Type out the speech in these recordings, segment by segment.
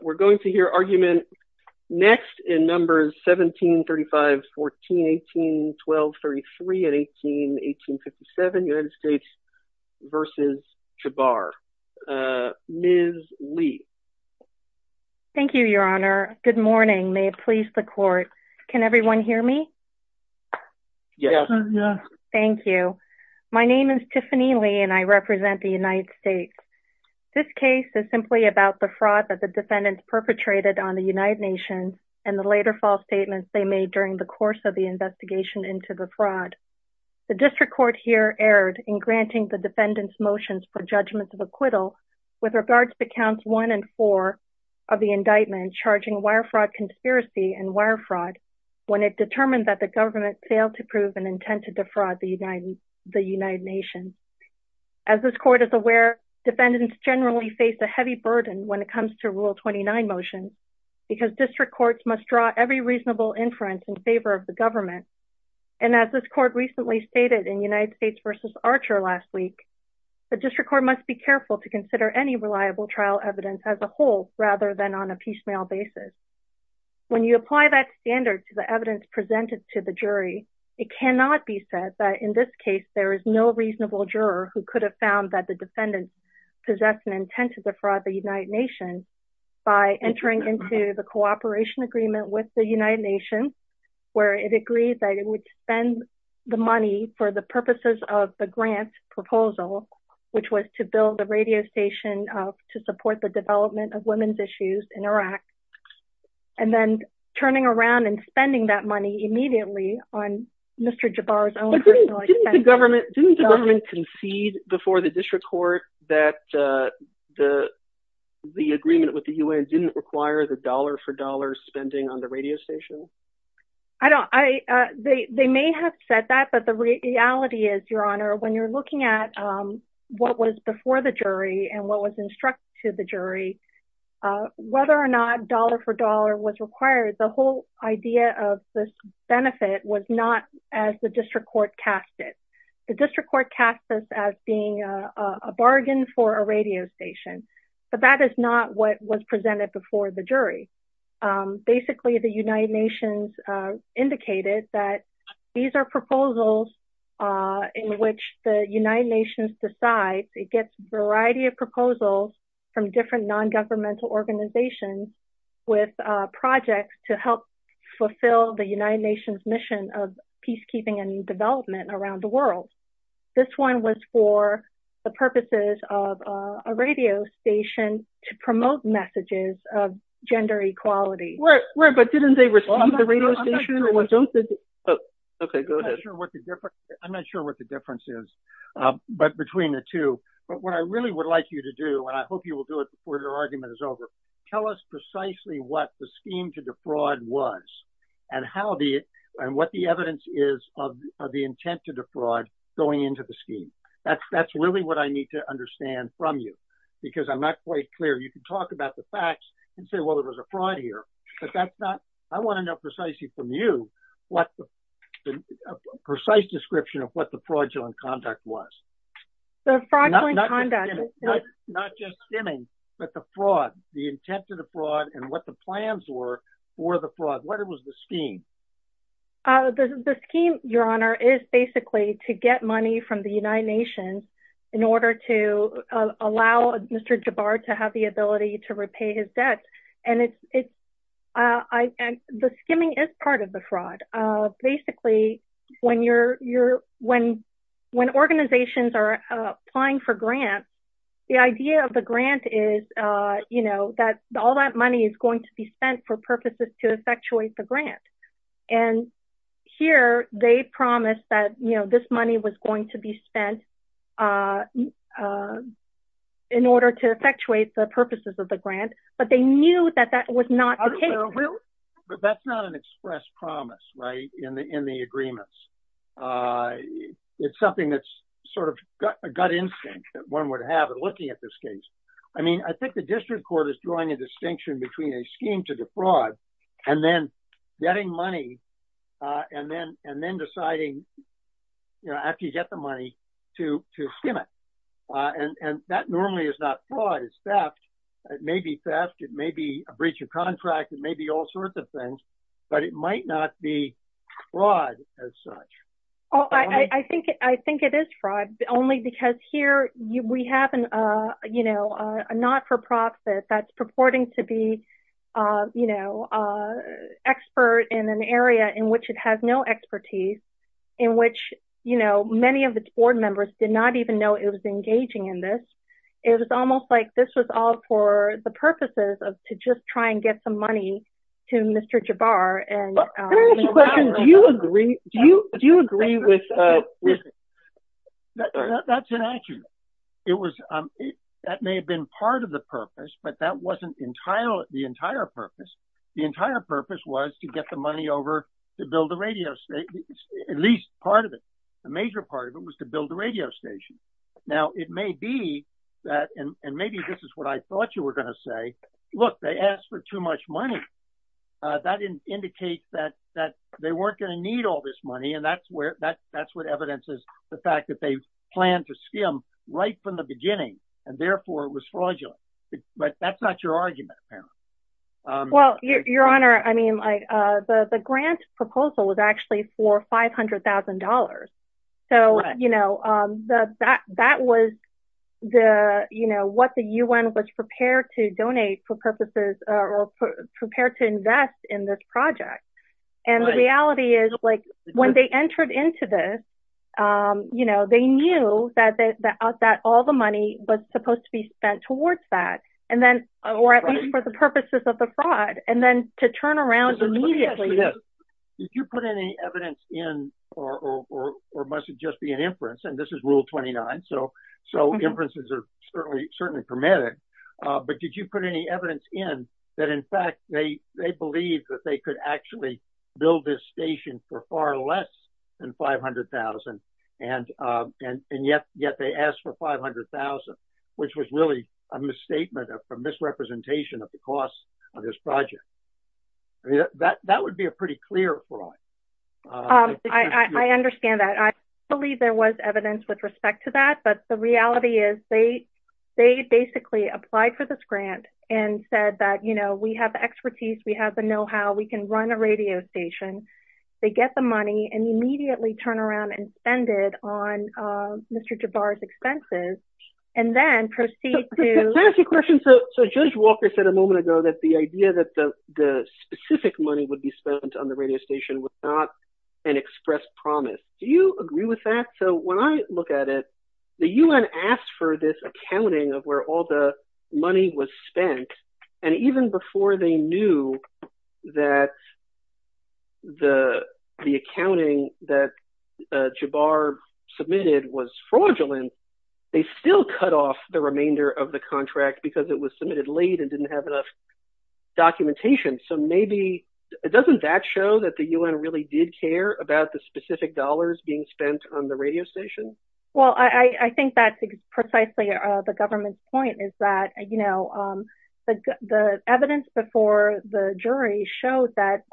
We're going to hear argument next in numbers 17, 35, 14, 18, 12, 33, 18, 1857, United States v. Jabar. Ms. Lee. Thank you, Your Honor. Good morning. May it please the Court. Can everyone hear me? Yes. Yes. Thank you. My name is Tiffany Lee and I represent the United States. This case is simply about the fraud that the defendants perpetrated on the United Nations and the later false statements they made during the course of the investigation into the fraud. The District Court here erred in granting the defendants' motions for judgments of acquittal with regards to Counts 1 and 4 of the indictment charging wire fraud conspiracy and wire fraud when it determined that the government failed to prove an intent to defraud the United Nations. As this Court is aware, defendants generally face a heavy burden when it comes to Rule 29 motions because District Courts must draw every reasonable inference in favor of the government. And as this Court recently stated in United States v. Archer last week, the District Court must be careful to consider any reliable trial evidence as a whole rather than on a piecemeal basis. When you apply that standard to the evidence presented to the jury, it cannot be said that in this case there is no reasonable juror who could have found that the defendants possessed an intent to defraud the United Nations by entering into the cooperation agreement with the United Nations where it agreed that it would spend the money for the purposes of the grant proposal, which was to build a radio station to support the development of women's issues in Iraq. And then turning around and spending that money immediately on Mr. Jabbar's own personal agenda. Didn't the government concede before the District Court that the agreement with the UN didn't require the dollar-for-dollar spending on the radio station? I don't. They may have said that, but the reality is, Your Honor, when you're looking at what was before the jury and what was instructed to the jury, whether or not dollar-for-dollar was required, the whole idea of this benefit was not as the District Court cast it. The District Court cast this as being a bargain for a radio station, but that is not what was presented before the jury. Basically, the United Nations indicated that these are proposals in which the United Nations decides. It gets a variety of proposals from different non-governmental organizations with projects to help fulfill the United Nations mission of peacekeeping and development around the world. This one was for the purposes of a radio station to promote messages of gender equality. But didn't they respond to the radio station? I'm not sure what the difference is between the two. What I really would like you to do, and I hope you will do it before the argument is over, tell us precisely what the scheme to defraud was and what the evidence is of the intent to defraud going into the scheme. That's really what I need to understand from you, because I'm not quite clear. You can talk about the facts and say, well, there was a fraud here, but I want to know precisely from you what the precise description of what the fraudulent conduct was. The fraudulent conduct. Not just skimming, but the fraud, the intent of the fraud and what the plans were for the fraud. What was the scheme? The scheme, Your Honor, is basically to get money from the United Nations in order to allow Mr. Jabbar to have the ability to repay his debt. The skimming is part of the fraud. Basically, when organizations are applying for grants, the idea of the grant is that all that money is going to be spent for purposes to effectuate the grant. Here, they promised that this money was going to be spent in order to effectuate the purposes of the grant, but they knew that that was not the case. That's not an express promise in the agreements. It's something that's sort of a gut instinct that one would have in looking at this case. I think the district court is drawing a distinction between a scheme to defraud and then getting money and then deciding, after you get the money, to skim it. That normally is not fraud, it's theft. It may be theft, it may be a breach of contract, it may be all sorts of things, but it might not be fraud as such. I think it is fraud, only because here we have a not-for-profit that's purporting to be an expert in an area in which it has no expertise, in which many of its board members did not even know it was engaging in this. It was almost like this was all for the purposes of just trying to get some money to Mr. Jabbar. Do you agree with this? That's inaccurate. That may have been part of the purpose, but that wasn't the entire purpose. The entire purpose was to get the money over to build the radio station, at least part of it. The major part of it was to build the radio station. Now, it may be that, and maybe this is what I thought you were going to say, look, they asked for too much money. That indicates that they weren't going to need all this money, and that's what evidence is, the fact that they planned to skim right from the beginning, and therefore it was fraudulent. But that's not your argument. Your Honor, the grant proposal was actually for $500,000. That was what the U.N. was prepared to invest in this project. The reality is, when they entered into this, they knew that all the money was supposed to be spent towards that, or at least for the purposes of the fraud, and then to turn around immediately... Did you put any evidence in, or must it just be an inference, and this is Rule 29, so inferences are certainly hermetic, but did you put any evidence in that, in fact, they believed that they could actually build this station for far less than $500,000, and yet they asked for $500,000, which was really a misstatement, a misrepresentation of the cost of this project. That would be a pretty clear fraud. I understand that. I believe there was evidence with respect to that, but the reality is, they basically applied for this grant and said that we have the expertise, we have the know-how, we can run a radio station, they get the money, and immediately turn around and spend it on Mr. Jabbar's expenses, and then proceed to... Can I ask you a question? Judge Walker said a moment ago that the idea that the specific money would be spent on the radio station was not an express promise. Do you agree with that? When I look at it, the U.N. asked for this accounting of where all the money was that the accounting that Jabbar submitted was fraudulent, they still cut off the remainder of the contract because it was submitted late and didn't have enough documentation. So maybe... Doesn't that show that the U.N. really did care about the specific dollars being spent on the radio station? Well, I think that's precisely the government's point, is that the evidence before the jury showed that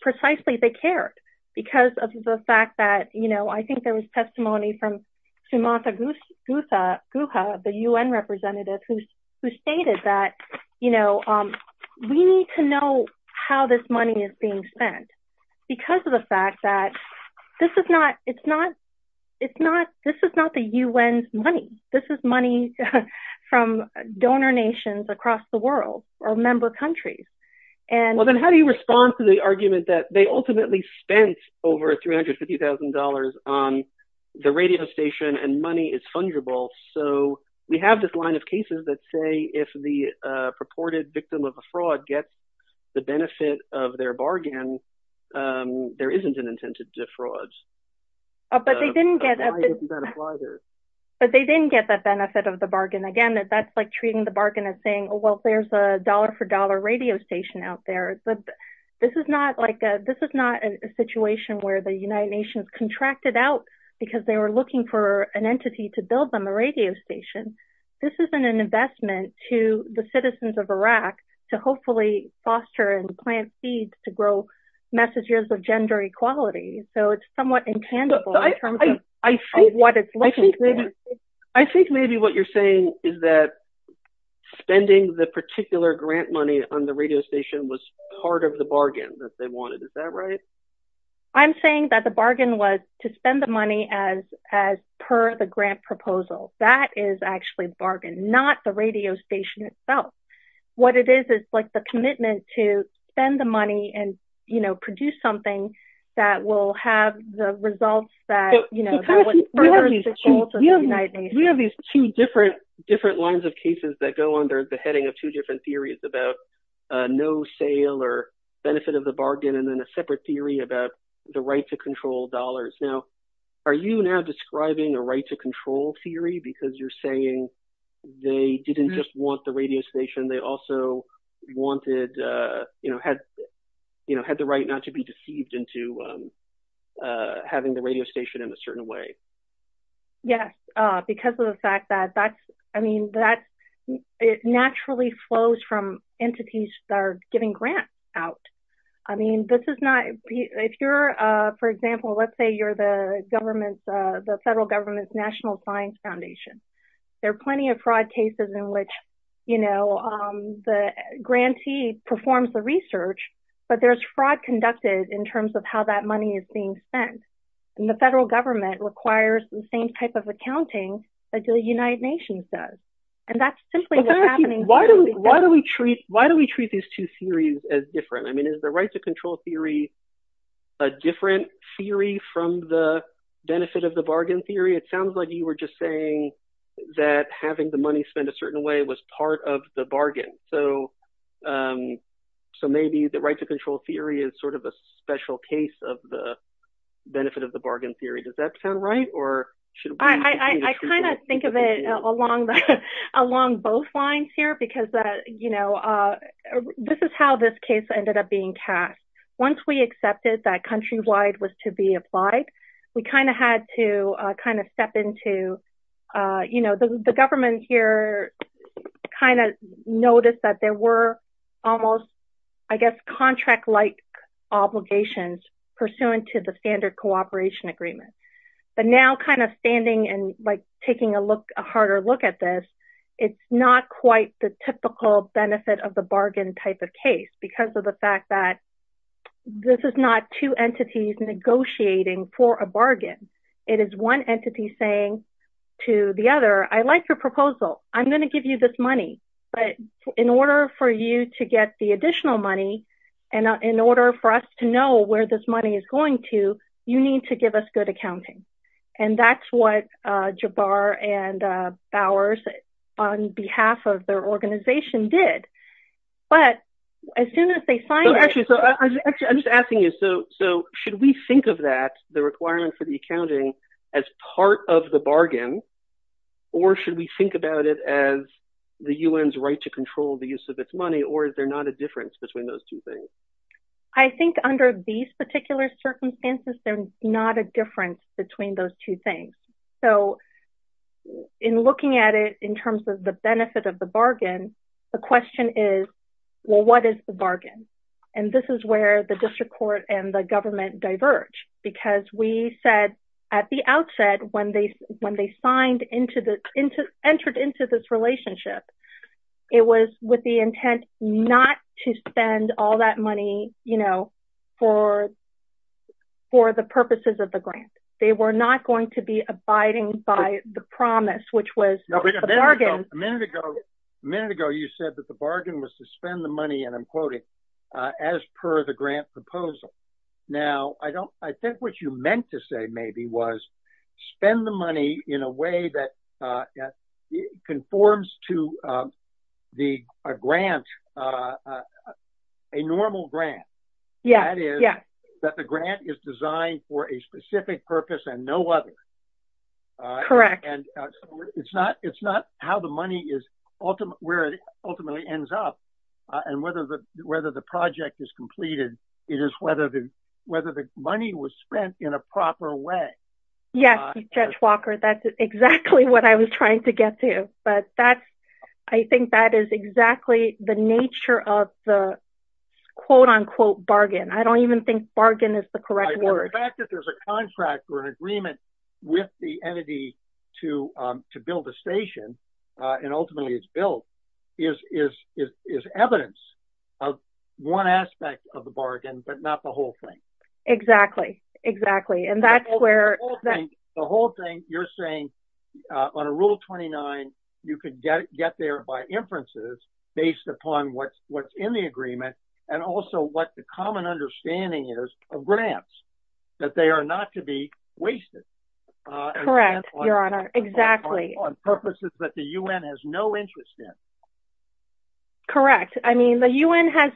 precisely they cared because of the fact that, you know, I think there was testimony from Sumatha Guha, the U.N. representative, who stated that, you know, we need to know how this money is being spent because of the fact that this is not the U.N.'s money. This is money from donor nations across the world or member countries. Well, then how do you respond to the argument that they ultimately spent over $350,000 on the radio station and money is fungible? So we have this line of cases that say if the purported victim of a fraud gets the benefit of their bargain, there isn't an incentive to fraud. But they didn't get... But they didn't get the benefit of the bargain. Again, that's like treating the bargain as saying, well, there's a dollar-for-dollar radio station out there. But this is not a situation where the United Nations contracted out because they were looking for an entity to build them a radio station. This isn't an investment to the citizens of Iraq to hopefully foster and plant seeds to grow messages of gender equality. So it's somewhat intangible in terms of what it's looking for. I think maybe what you're saying is that spending the particular grant money on the radio station was part of the bargain that they wanted. Is that right? I'm saying that the bargain was to spend the money as per the grant proposal. That is actually the bargain, not the radio station itself. What it is is the commitment to spend the money and produce something that will have the results that... We have these two different lines of cases that go under the heading of two different theories about no sale or benefit of the bargain and then a separate theory about the right to control dollars. Now, are you now describing a right to control theory because you're saying they didn't just want the radio station, they also wanted... had the right not to be deceived into having the radio station in a certain way? Yes, because of the fact that it naturally flows from entities that are giving grants out. I mean, this is not... If you're, for example, let's say you're the federal government's National Science Foundation. There are plenty of fraud cases in which the grantee performs the research, but there's fraud conducted in terms of how that money is being spent. And the federal government requires the same type of accounting that the United Nations does. And that's simply what's happening... Why do we treat these two theories as different? I mean, is the right to control theory a different theory from the benefit of the bargain theory? It sounds like you were just saying that having the money spent a certain way was part of the bargain. So maybe the right to control theory is sort of a special case of the benefit of the bargain theory. Does that sound right? I kind of think of it along both lines here because this is how this case ended up being cast. Once we accepted that Countrywide was to be applied, we kind of had to kind of step into... The government here kind of noticed that there were almost, I guess, contract-like obligations pursuant to the Standard Cooperation Agreement. But now kind of standing and taking a harder look at this, it's not quite the typical benefit of the bargain type of case because of the fact that this is not two entities negotiating for a bargain. It is one entity saying to the other, I like your proposal. I'm going to give you this money. But in order for you to get the additional money and in order for us to know where this money is going to, you need to give us good accounting. And that's what Jabbar and Bowers on behalf of their organization did. But as soon as they signed it... I'm just asking you, so should we think of that, the requirement for the accounting, as part of the bargain or should we think about it as the UN's right to control the use of its money or is there not a difference between those two things? I think under these particular circumstances, there's not a difference between those two things. So in looking at it in terms of the benefit of the bargain, the question is, well, what is the bargain? And this is where the district court and the government diverge. Because we said at the outset when they entered into this relationship, it was with the intent not to spend all that money for the purposes of the grant. They were not going to be abiding by the promise, which was the bargain. A minute ago, you said that the bargain was to spend the money, and I'm quoting, as per the grant proposal. Now, I think what you meant to say maybe was spend the money in a way that conforms to a grant, a normal grant. That is, that the grant is designed for a specific purpose and no other. Correct. It's not how the money is ultimately ends up and whether the project is completed. It is whether the money was spent in a proper way. Yes, Judge Walker, that's exactly what I was trying to get to. But I think that is exactly the nature of the quote-unquote bargain. I don't even think bargain is the correct word. The fact that there's a contract or an agreement with the entity to build a station and ultimately it's built is evidence of one aspect of the bargain, but not the whole thing. Exactly. The whole thing you're saying on a Rule 29, you could get there by inferences based upon what's in the agreement and also what the common understanding is of grants, that they are not to be wasted. Correct, Your Honor. Exactly. On purposes that the U.N. has no interest in. Correct. I mean, the U.N. has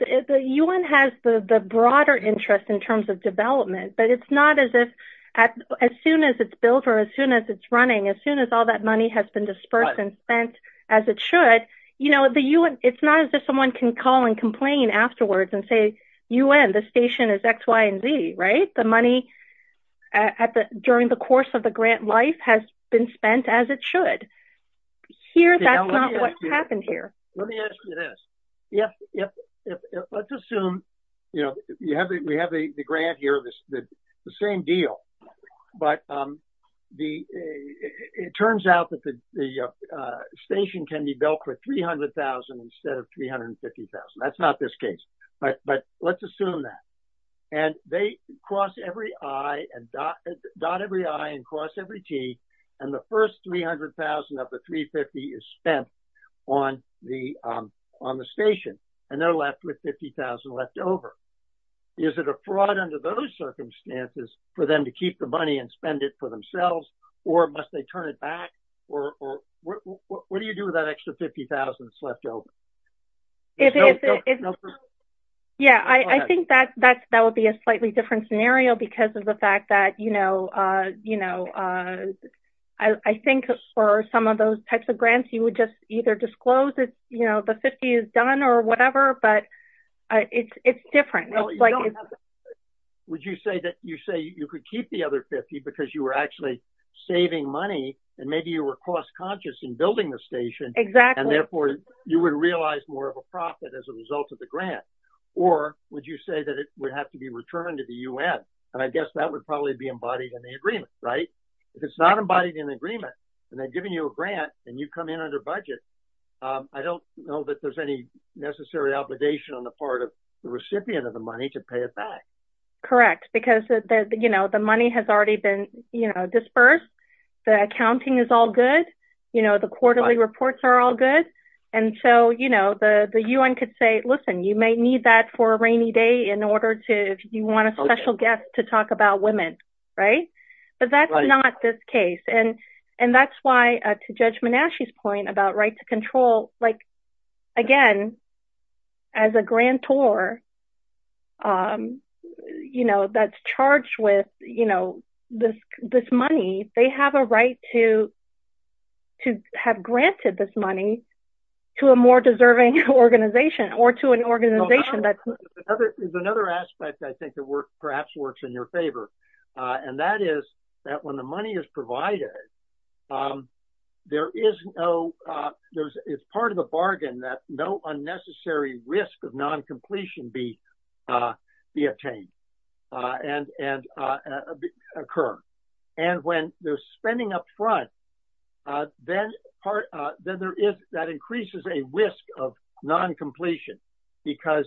the broader interest in terms of development, but it's not as if as soon as it's built or as soon as it's running, as soon as all that money has been dispersed and spent as it should, it's not as if someone can call and complain afterwards and say, U.N., this station is X, Y, and Z, right? The money during the course of the grant life has been spent as it should. Here, that's not what happened here. Let me ask you this. Let's assume, you know, we have the grant here, the same deal, but it turns out that the station can be built for $300,000 instead of $350,000. That's not this case, but let's assume that. And they cross every I and dot every I and cross every G, and the first $300,000 of the $350,000 is spent on the station, and they're left with $50,000 left over. Is it a fraud under those circumstances for them to keep the money and spend it for themselves, or must they turn it back? What do you do with that extra $50,000 that's left over? Yeah, I think that would be a slightly different scenario because of the fact that, you know, I think for some of those types of grants, you would just either disclose that the $50,000 is done or whatever, but it's different. Would you say that you could keep the other $50,000 because you were actually saving money, and maybe you were cost-conscious in building the station, and therefore you would realize more of a profit as a result of the grant? Or would you say that it would have to be returned to the UN? And I guess that would probably be embodied in the agreement, right? If it's not embodied in the agreement, and they're giving you a grant, and you come in under budget, I don't know that there's any necessary obligation on the part of the recipient of the money to pay it back. Correct, because, you know, the money has already been, you know, dispersed. The accounting is all good. You know, the quarterly reports are all good. And so, you know, the UN could say, listen, you may need that for a rainy day in order to, if you want a special guest to talk about women, right? But that's not this case. And that's why, to Judge Menashe's point about right to control, like, again, as a grantor, you know, that's charged with, you know, this money, they have a right to have granted this money to a more deserving organization or to an organization that's... There's another aspect, I think, that perhaps works in your favor. And that is that when the money is provided, there is no... It's part of the bargain that no unnecessary risk of non-completion be attained and occur. And when they're spending up front, then there is... That increases a risk of non-completion because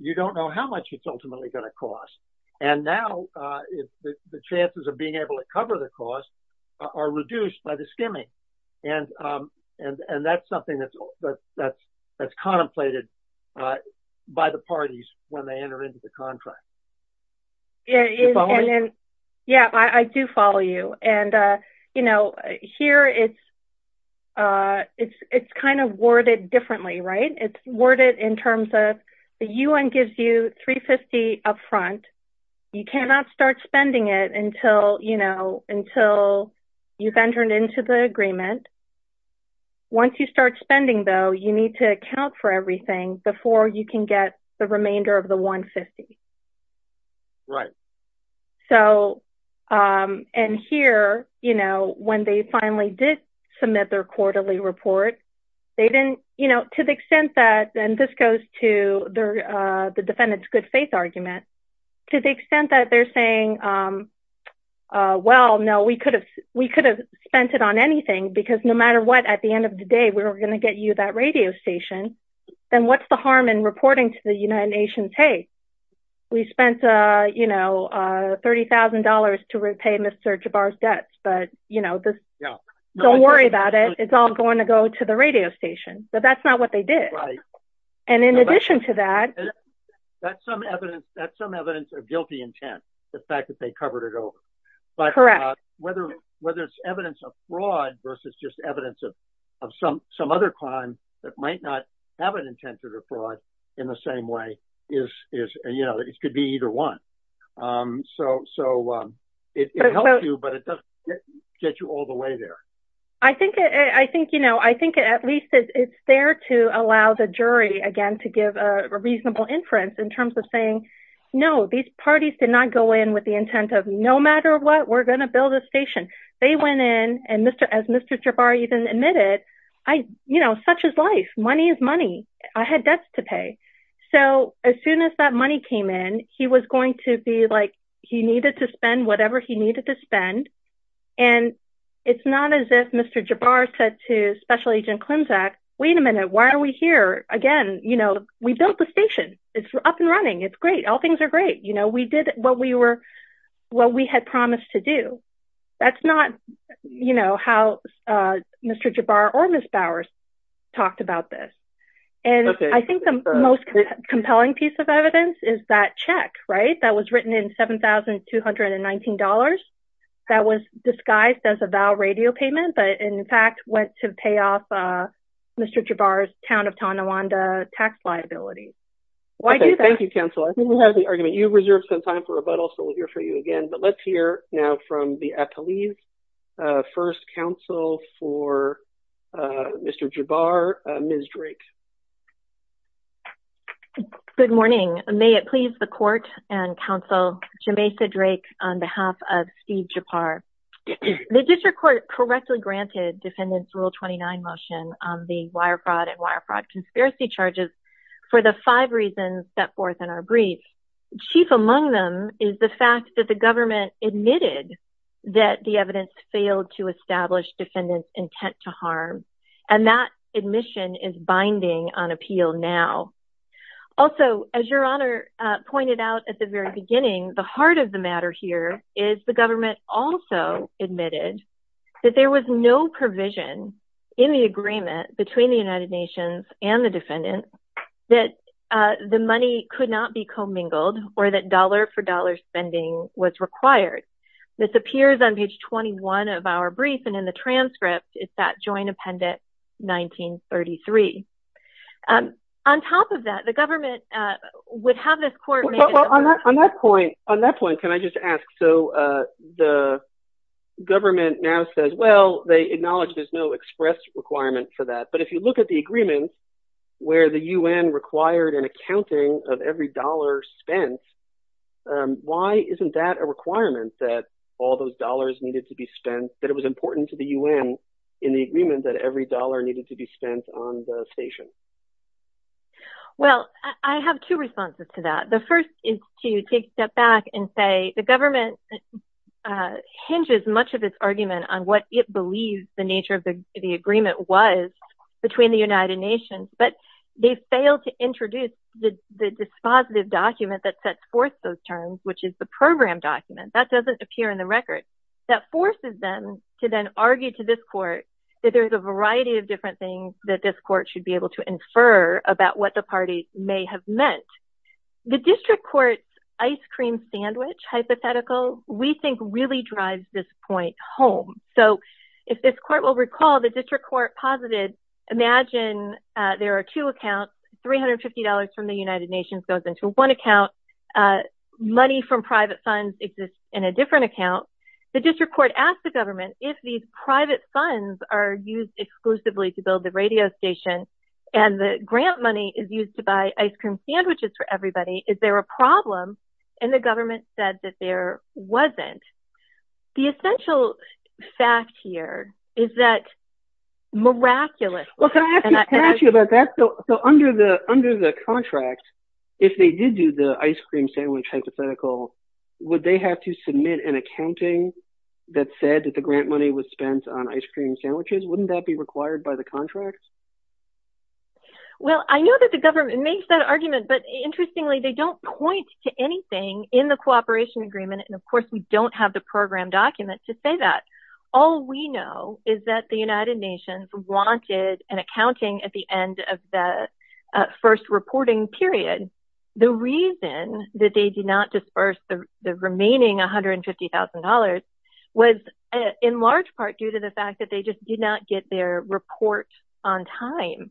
you don't know how much it's ultimately going to cost. And now the chances of being able to cover the cost are reduced by the skimming. And that's something that's contemplated by the parties when they enter into the contract. Do you follow me? Yeah, I do follow you. And, you know, here it's kind of worded differently, right? It's worded in terms of the UN gives you $350 upfront. You cannot start spending it until, you know, until you've entered into the agreement. Once you start spending, though, you need to account for everything before you can get the remainder of the $150. Right. So... And here, you know, when they finally did submit their quarterly report, they didn't, you know, to the extent that... And this goes to the defendant's good faith argument. To the extent that they're saying, well, no, we could have spent it on anything because no matter what, at the end of the day, we were going to get you that radio station. Then what's the harm in reporting to the United Nations? Hey, we spent, you know, $30,000 to repay Mr. Jabbar's debts. But, you know, don't worry about it. It's all going to go to the radio station. But that's not what they did. And in addition to that... That's some evidence of guilty intent. The fact that they covered it over. Correct. But whether it's evidence of fraud versus just evidence of some other crime that might not have an intent to defraud in the same way is, you know, it could be either one. So it helps you, but it doesn't get you all the way there. I think, you know, I think at least it's there to allow the jury, again, to give a reasonable inference in terms of saying, no, these parties did not go in with the intent of, no matter what, we're going to build a station. They went in and, as Mr. Jabbar even admitted, I, you know, such is life. Money is money. I had debts to pay. So as soon as that money came in, he was going to be like he needed to spend whatever he needed to spend. And it's not as if Mr. Jabbar said to Special Agent Klimczak, wait a minute, why are we here? Again, you know, we built the station. It's up and running. It's great. All things are great. You know, we did what we were, what we had promised to do. That's not, you know, how Mr. Jabbar or Ms. Bowers talked about this. And I think the most compelling piece of evidence is that check, right? That was written in $7,219. That was disguised as a VAL radio payment, but in fact went to pay off Mr. Jabbar's Town of Tonawanda tax liability. Thank you, counsel. I think we'll have the argument. You've reserved some time for rebuttal, so we'll hear from you again. But let's hear now from the appellees. First counsel for Mr. Jabbar, Ms. Drake. Good morning. May it please the court and counsel, Jamesa Drake on behalf of Steve Jabbar. The district court correctly granted defendants' Rule 29 motion on the wire fraud and wire fraud conspiracy charges for the five reasons set forth in our brief. Chief among them is the fact that the government admitted that the evidence failed to establish defendants' intent to harm. And that admission is binding on appeal now. Also, as your Honor pointed out at the very beginning, the heart of the matter here is the government also admitted that there was no provision in the agreement between the United Nations and the defendants that the money could not be commingled or that dollar-for-dollar spending was required. This appears on page 21 of our brief, and in the transcript, it's that joint appendix 1933. On top of that, the government would have this court... On that point, on that point, can I just ask? So the government now says, well, they acknowledge there's no express requirement for that. But if you look at the agreement where the U.N. required an accounting of every dollar spent, why isn't that a requirement that all those dollars needed to be spent, that it was important to the U.N. in the agreement that every dollar needed to be spent on the station? Well, I have two responses to that. The first is to take a step back and say the government hinges much of its argument on what it believes the nature of the agreement was between the United Nations. But they failed to introduce the dispositive document that sets forth those terms, which is the program document. That doesn't appear in the record. And that forces them to then argue to this court that there's a variety of different things that this court should be able to infer about what the parties may have meant. The district court's ice cream sandwich hypothetical, we think, really drives this point home. So if this court will recall, the district court posited, imagine there are two accounts. $350 from the United Nations goes into one account. Money from private funds exists in a different account. The court asked the government if these private funds are used exclusively to build the radio station and the grant money is used to buy ice cream sandwiches for everybody, is there a problem? And the government said that there wasn't. The essential fact here is that miraculously... Well, can I ask you about that? So under the contract, if they did do the ice cream sandwich hypothetical, would they have to submit an accounting that said that the grant money was spent on ice cream sandwiches? Wouldn't that be required by the contracts? Well, I know that the government makes that argument, but interestingly, they don't point to anything in the cooperation agreement, and of course, we don't have the program document to say that. All we know is that the United Nations wanted an accounting at the end of the first reporting period. The reason that they did not disburse the remaining $150,000 was in large part due to the fact that they just did not get their report on time.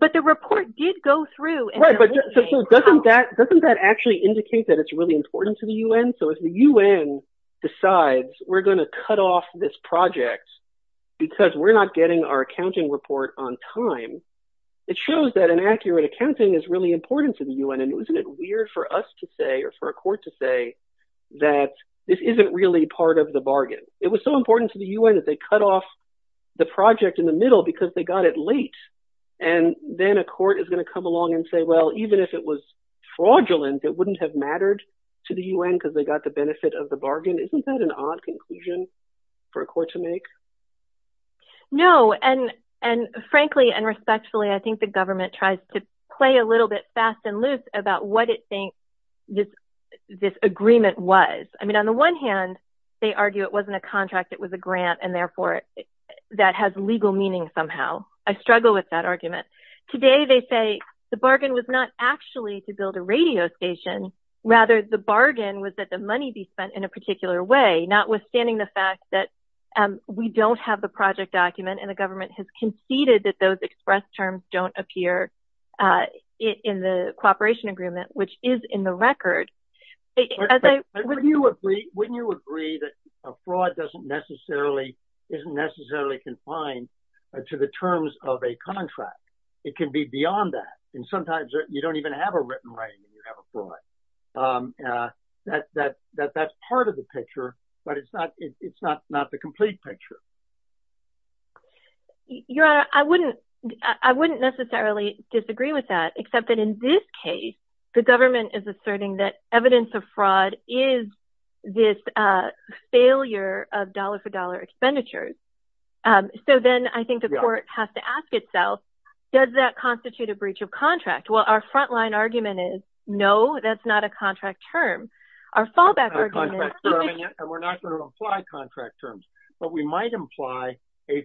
But the report did go through... Right, but doesn't that actually indicate that it's really important to the UN? So if the UN decides we're going to cut off this project because we're not getting our accounting report on time, it shows that an accurate accounting is really important to the UN and isn't it weird for us to say or for a court to say that this isn't really part of the bargain? It was so important to the UN that they cut off the project in the middle because they got it late, and then a court is going to come along and say, well, even if it was fraudulent, it wouldn't have mattered to the UN because they got the benefit of the bargain. Isn't that an odd conclusion for a court to make? No, and frankly and respectfully, I think the government tries to play a little bit fast and loose about what it thinks this agreement was. They argue it wasn't a contract, it was a grant and therefore that has legal meaning somehow. I struggle with that argument. Today they say the bargain was not actually to build a radio station, rather the bargain was that the money be spent in a particular way, notwithstanding the fact that we don't have the project document and the government has conceded that those express terms don't appear in the cooperation agreement, which is in the record. I think that a fraud isn't necessarily confined to the terms of a contract. It can be beyond that. Sometimes you don't even have a written writing when you have a fraud. That's part of the picture, but it's not the complete picture. Your Honor, I wouldn't necessarily disagree with that, except that in this case, the government is asserting that evidence of fraud is this failure of dollar-for-dollar expenditures. Then I think the court has to ask itself, does that constitute a breach of contract? Our front-line argument is no, that's not a contract term. Our fallback argument is... We're not going to apply contract terms, but we might imply an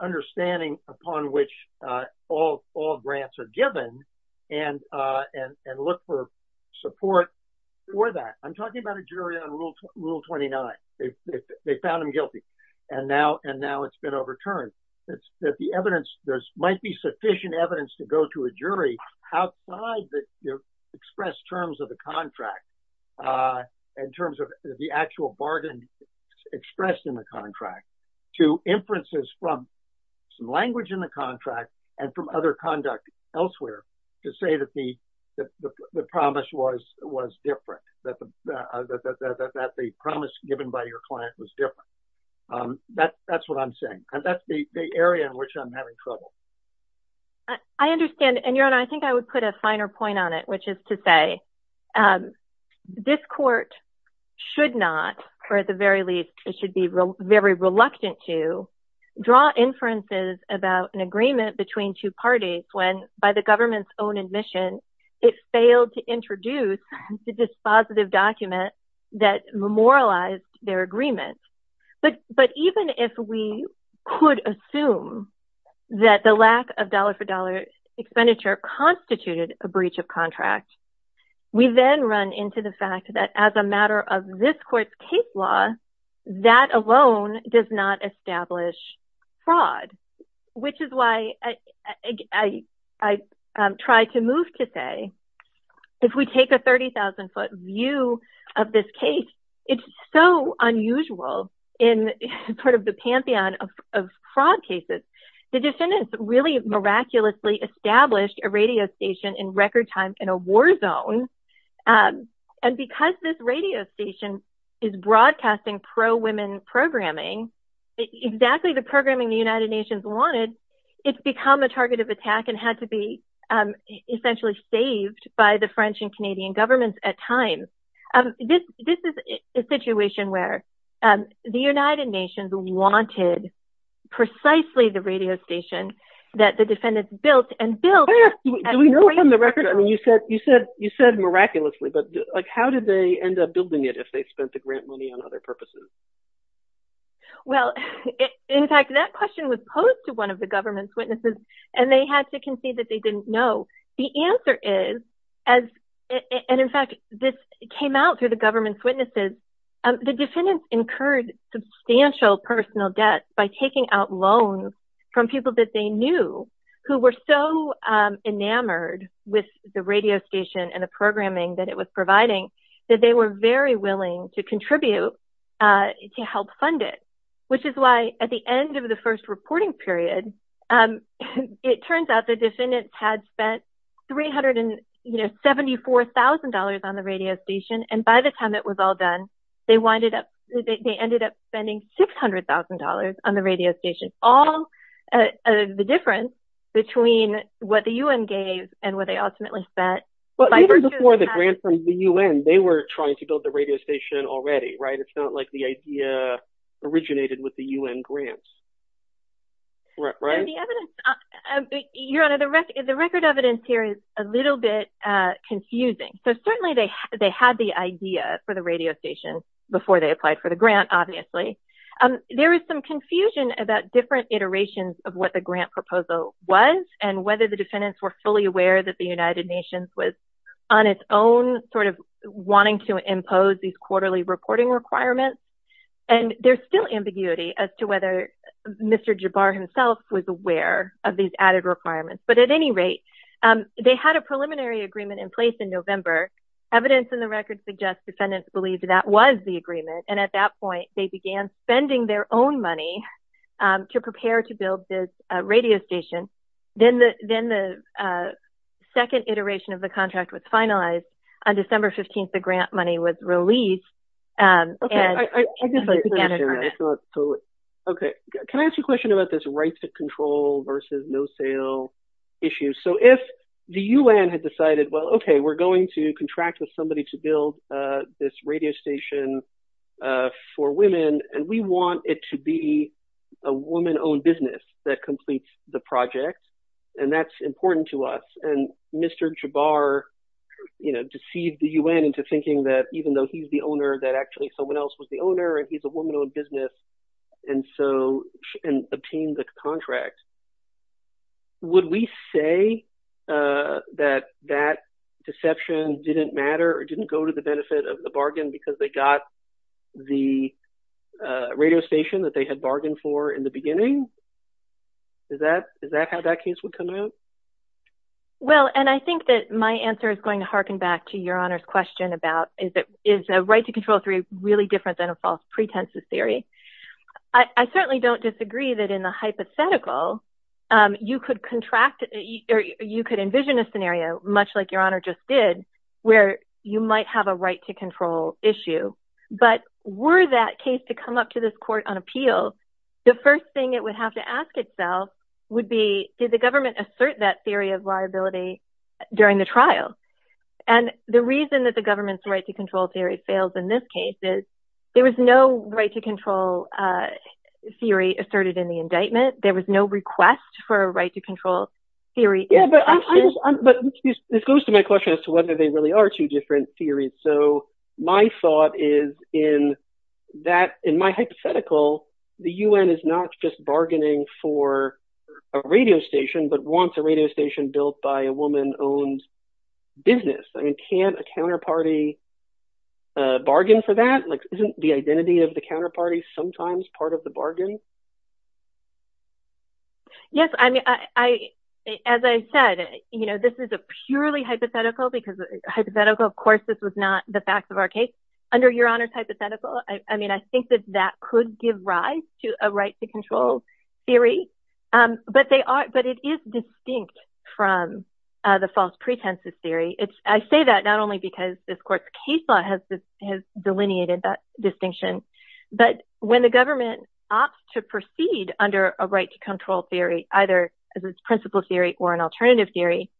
understanding upon which all grants are given and look for support for that. I'm talking about a jury on Rule 29. They found him guilty. Now it's been overturned. There might be sufficient evidence to go to a jury outside the express terms of the contract in terms of the actual bargain expressed in the contract to inferences from language in the contract and from other conduct elsewhere to say that the promise given by your client was different. That's what I'm saying. That's the area in which I'm having trouble. I understand, and Your Honor, I think I would put a finer point on it, which is to say this court should not, or at the very least, it should be very reluctant to, draw inferences about an agreement between two parties when, by the government's own admission, it failed to introduce a dispositive document that memorialized their agreement. But even if we could assume that the lack of dollar-for-dollar expenditure constituted a breach of contract, we then run into the fact that, as a matter of this court's case law, that alone does not establish fraud, if we take a $30,000 bond or a $40,000 view of this case, it's so unusual in the pantheon of fraud cases. The defendants really miraculously established a radio station in record time in a war zone, and because this radio station is broadcasting pro-women programming, exactly the programming the United Nations wanted, it's become a target of attack and had to be essentially saved at times. This is a situation where the United Nations wanted precisely the radio station that the defendants built and built... You said miraculously, but how did they end up building it if they spent the grant money on other purposes? Well, in fact, that question was posed to one of the government's witnesses, and this came out through the government's witnesses. The defendants incurred substantial personal debts by taking out loans from people that they knew who were so enamored with the radio station and the programming that it was providing that they were very willing to contribute to help fund it, which is why, at the end of the first reporting period, $374,000 on the radio station and by the time it was all done, they ended up spending $600,000 on the radio station. All the difference between what the UN gave and what they ultimately spent. But even before the grant from the UN, they were trying to build the radio station already, right? It's not like the idea originated with the UN grant. Right? Your Honor, the record evidence here is a little bit confusing. They had the idea for the radio station before they applied for the grant, obviously. There is some confusion about different iterations of what the grant proposal was and whether the defendants were fully aware that the United Nations was on its own sort of wanting to impose these quarterly reporting requirements. And there's still ambiguity as to whether Mr. Jabbar himself was aware of these added requirements. But at any rate, they had a preliminary agreement and the evidence in the record suggests defendants believed that was the agreement. And at that point, they began spending their own money to prepare to build this radio station. Then the second iteration of the contract was finalized. On December 15th, the grant money was released. Okay. Can I ask you a question about this rights of control versus no sale issue? So if the UN had decided, well, okay, we're going to build this radio station for women and we want it to be a woman-owned business that completes the project and that's important to us and Mr. Jabbar deceived the UN into thinking that even though he's the owner that actually someone else was the owner and he's a woman-owned business and so he obtained the contract. Would we say that that deception didn't matter and go to the benefit of the bargain because they got the radio station that they had bargained for in the beginning? Is that how that case would come out? Well, and I think that my answer is going to harken back to Your Honor's question about is a right to control theory really different than a false pretenses theory? I certainly don't disagree that in the hypothetical you could contract or you could envision a scenario much like Your Honor just did where you just have a right to control issue. But were that case to come up to this court on appeal the first thing it would have to ask itself would be did the government assert that theory of liability during the trial? And the reason that the government's right to control theory fails in this case is there was no right to control theory asserted in the indictment. There was no request for a right to control theory. Yeah, but this goes to my question as to whether this is a purely hypothetical case. So my thought is in my hypothetical the U.N. is not just bargaining for a radio station but wants a radio station built by a woman-owned business. I mean, can't a counterparty bargain for that? Isn't the identity of the counterparty sometimes part of the bargain? As I said, this is a purely hypothetical because a hypothetical, of course, is not the facts of our case. Under Your Honor's hypothetical, I mean, I think that that could give rise to a right to control theory. But it is distinct from the false pretenses theory. I say that not only because this court's case law has delineated that distinction but when the government opts to proceed under a right to control theory either as a principle theory or an alternative theory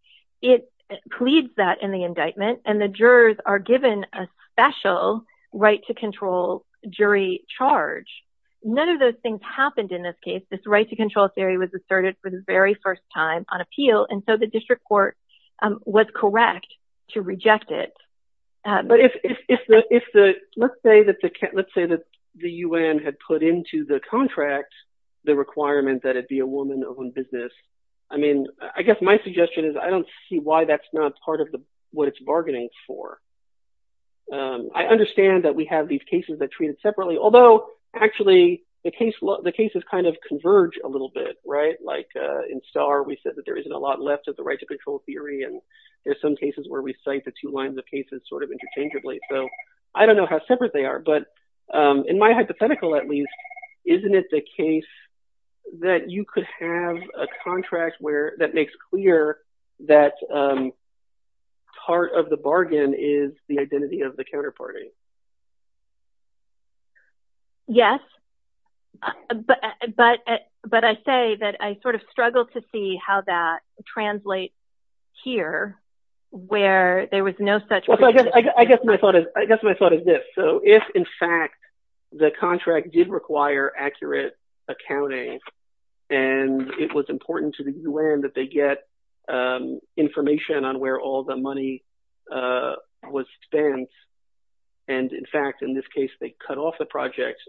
it pleads that in the indictment there has been a special right to control jury charge. None of those things happened in this case. This right to control theory was asserted for the very first time on appeal and so the district court was correct to reject it. But if the, let's say that the U.N. had put into the contract the requirement that it be a woman-owned business I mean, I guess my suggestion is I don't see why that's not part of what it's bargaining for. I understand that we have these cases that are treated separately although actually the cases kind of converge a little bit. Right? Like in Starr we said that there isn't a lot left of the right to control theory and there's some cases where we cite the two lines of cases sort of interchangeably. So I don't know how separate they are but in my hypothetical at least isn't it the case that you could have a contract that makes clear that part of the bargain is the identity of the counterparty? Yes. But I say that I sort of struggle to see how that translates here where there was no such... I guess my thought is this. So if in fact the contract did require accurate accounting and it was important to the U.N. that they get information on where all the money was spent and in fact in this case they cut off the project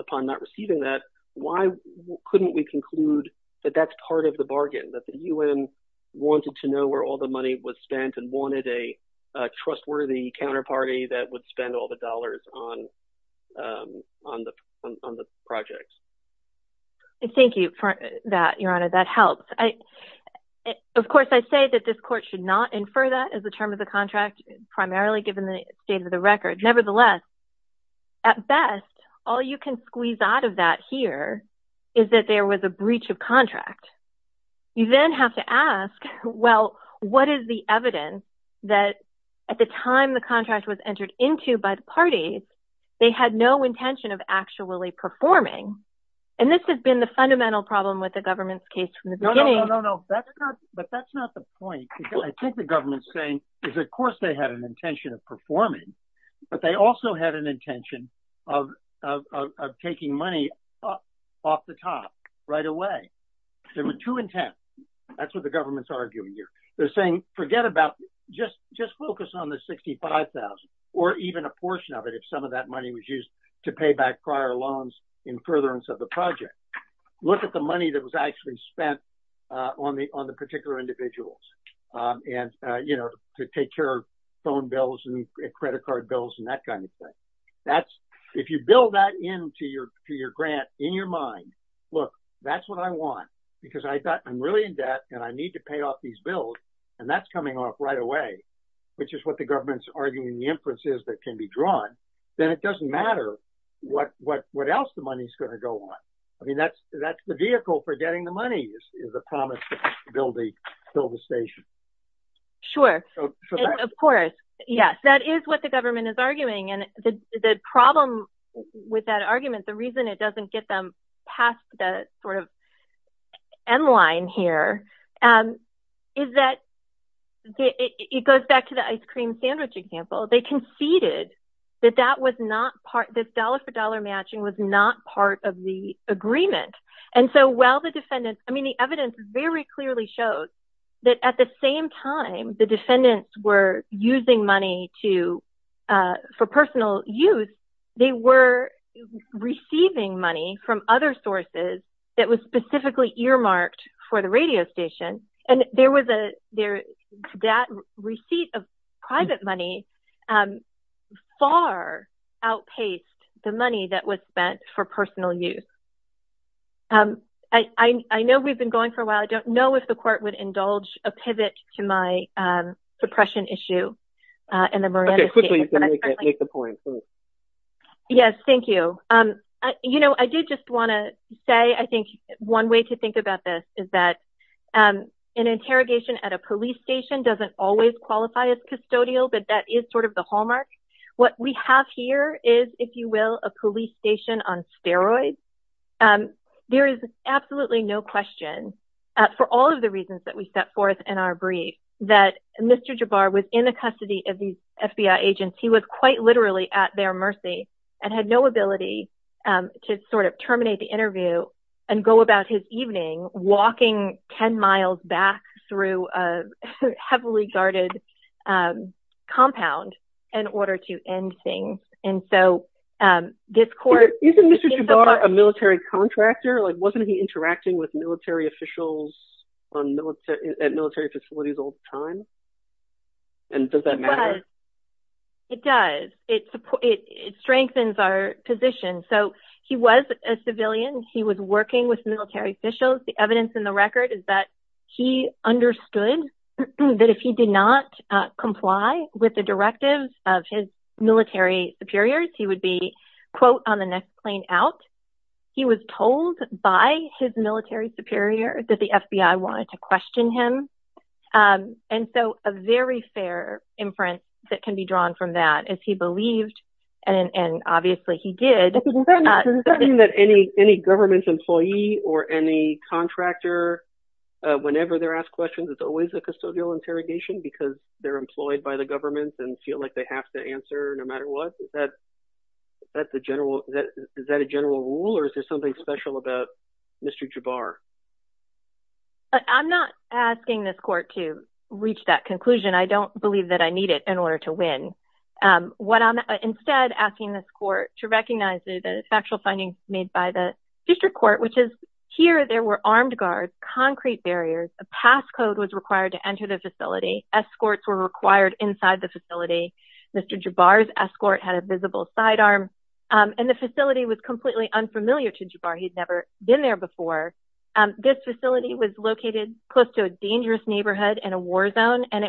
upon not receiving that why couldn't we conclude that that's part of the bargain? That the U.N. wanted to know where all the money was spent and wanted a trustworthy counterparty that would spend all the dollars on the project? Thank you for that, Your Honor. That helps. Of course I say that this court should not infer that as a term of the contract primarily given the state of the record. Nevertheless, at best all you can squeeze out of that here is that there was a breach of contract. You then have to ask, well, what is the evidence that at the time the contract was entered into by the parties they had no intention of actually performing? And this has been the fundamental problem with the government's case from the beginning. Of course they had an intention of performing but they also had an intention of taking money off the top right away. There were two intents. That's what the government's arguing here. They're saying forget about, just focus on the $65,000 or even a portion of it if some of that money was used to pay back prior loans in furtherance of the project. Look at the money that was actually spent on the particular individuals. To take care of phone bills and credit card bills and that kind of thing. If you build that into your grant in your mind look, that's what I want because I thought I'm really in debt and I need to pay off these bills and that's coming off right away which is what the government's arguing the inference is that can be drawn then it doesn't matter what else the money's going to go on. Of course, yes, that is what the government is arguing and the problem with that argument the reason it doesn't get them past the sort of end line here is that it goes back to the ice cream sandwich example. They conceded that this dollar for dollar matching was not part of the agreement. The evidence very clearly shows that at the same time that individuals were using money for personal use they were receiving money from other sources that was specifically earmarked for the radio station and there was that receipt of private money far outpaced the money that was spent for personal use. I know we've been going for a while I don't know if the court would indulge but I do want to say one way to think about this is that an interrogation at a police station doesn't always qualify as custodial but that is sort of the hallmark. What we have here is, if you will, a police station on steroids. There is absolutely no question for all of the reasons that we set forth in our brief that Mr. Javar was in the custody of these FBI agents he was quite literally at their mercy and had no ability to sort of terminate the interview and go about his evening walking 10 miles back through a heavily guarded compound in order to end things. Isn't Mr. Javar a military contractor? Wasn't he interacting with military officials at military facilities all the time? Does that matter? It does. It strengthens our position. He was a civilian. He was working with military officials. The evidence in the record is that he understood that if he did not comply with the directive of his military superiors he would be, quote, on the next plane out. He was told by his military superior that the FBI wanted to question him. There is no other inference that can be drawn from that. If he believed, and obviously he did... Is it something that any government employee or any contractor whenever they're asked questions it's always a custodial interrogation because they're employed by the government and feel like they have to answer no matter what? Is that a general rule or is there something special about Mr. Javar? I believe that I need it in order to win. Instead, I'm asking this court to recognize the factual findings made by the district court which is here there were armed guards, concrete barriers a passcode was required to enter the facility escorts were required inside the facility Mr. Javar's escort had a visible sidearm and the facility was completely unfamiliar to Javar. He'd never been there before. This facility was located close to a dangerous neighborhood which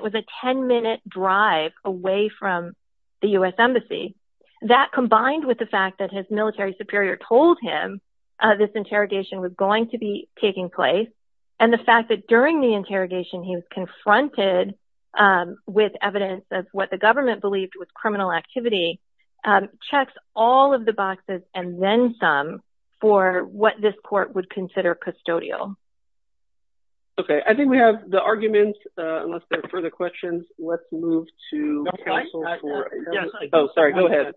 was a 10-minute drive away from the U.S. Embassy. That combined with the fact that his military superior told him this interrogation was going to be taking place and the fact that during the interrogation he was confronted with evidence of what the government believed was criminal activity checks all of the boxes and then some for what this court would consider custodial. Okay, I think we have the arguments unless there are further questions I'm going to move to counsel's report. Go ahead.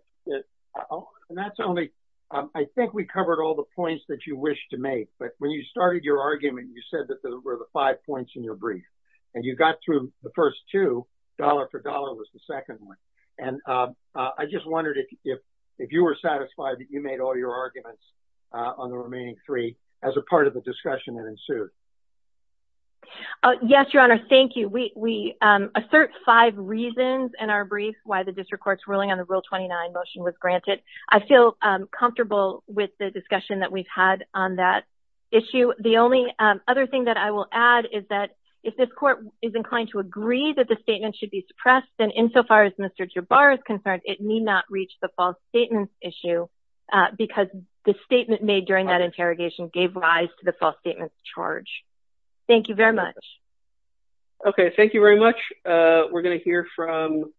I think we covered all the points that you wish to make but when you started your argument you said that there were the five points in your brief and you got through the first two dollar for dollar was the second one and I just wondered if you were satisfied that you made all your arguments on the remaining three as a part of the discussion that ensued. Thank you. I don't have any specific reasons in our brief why the district court's ruling on the Rule 29 motion was granted. I feel comfortable with the discussion that we've had on that issue. The only other thing that I will add is that if this court is inclined to agree that the statement should be suppressed then insofar as Mr. Jabbar is concerned it need not reach the false statements issue because the statement made during that interrogation gave rise to the false statements charge. Thank you. We have a question from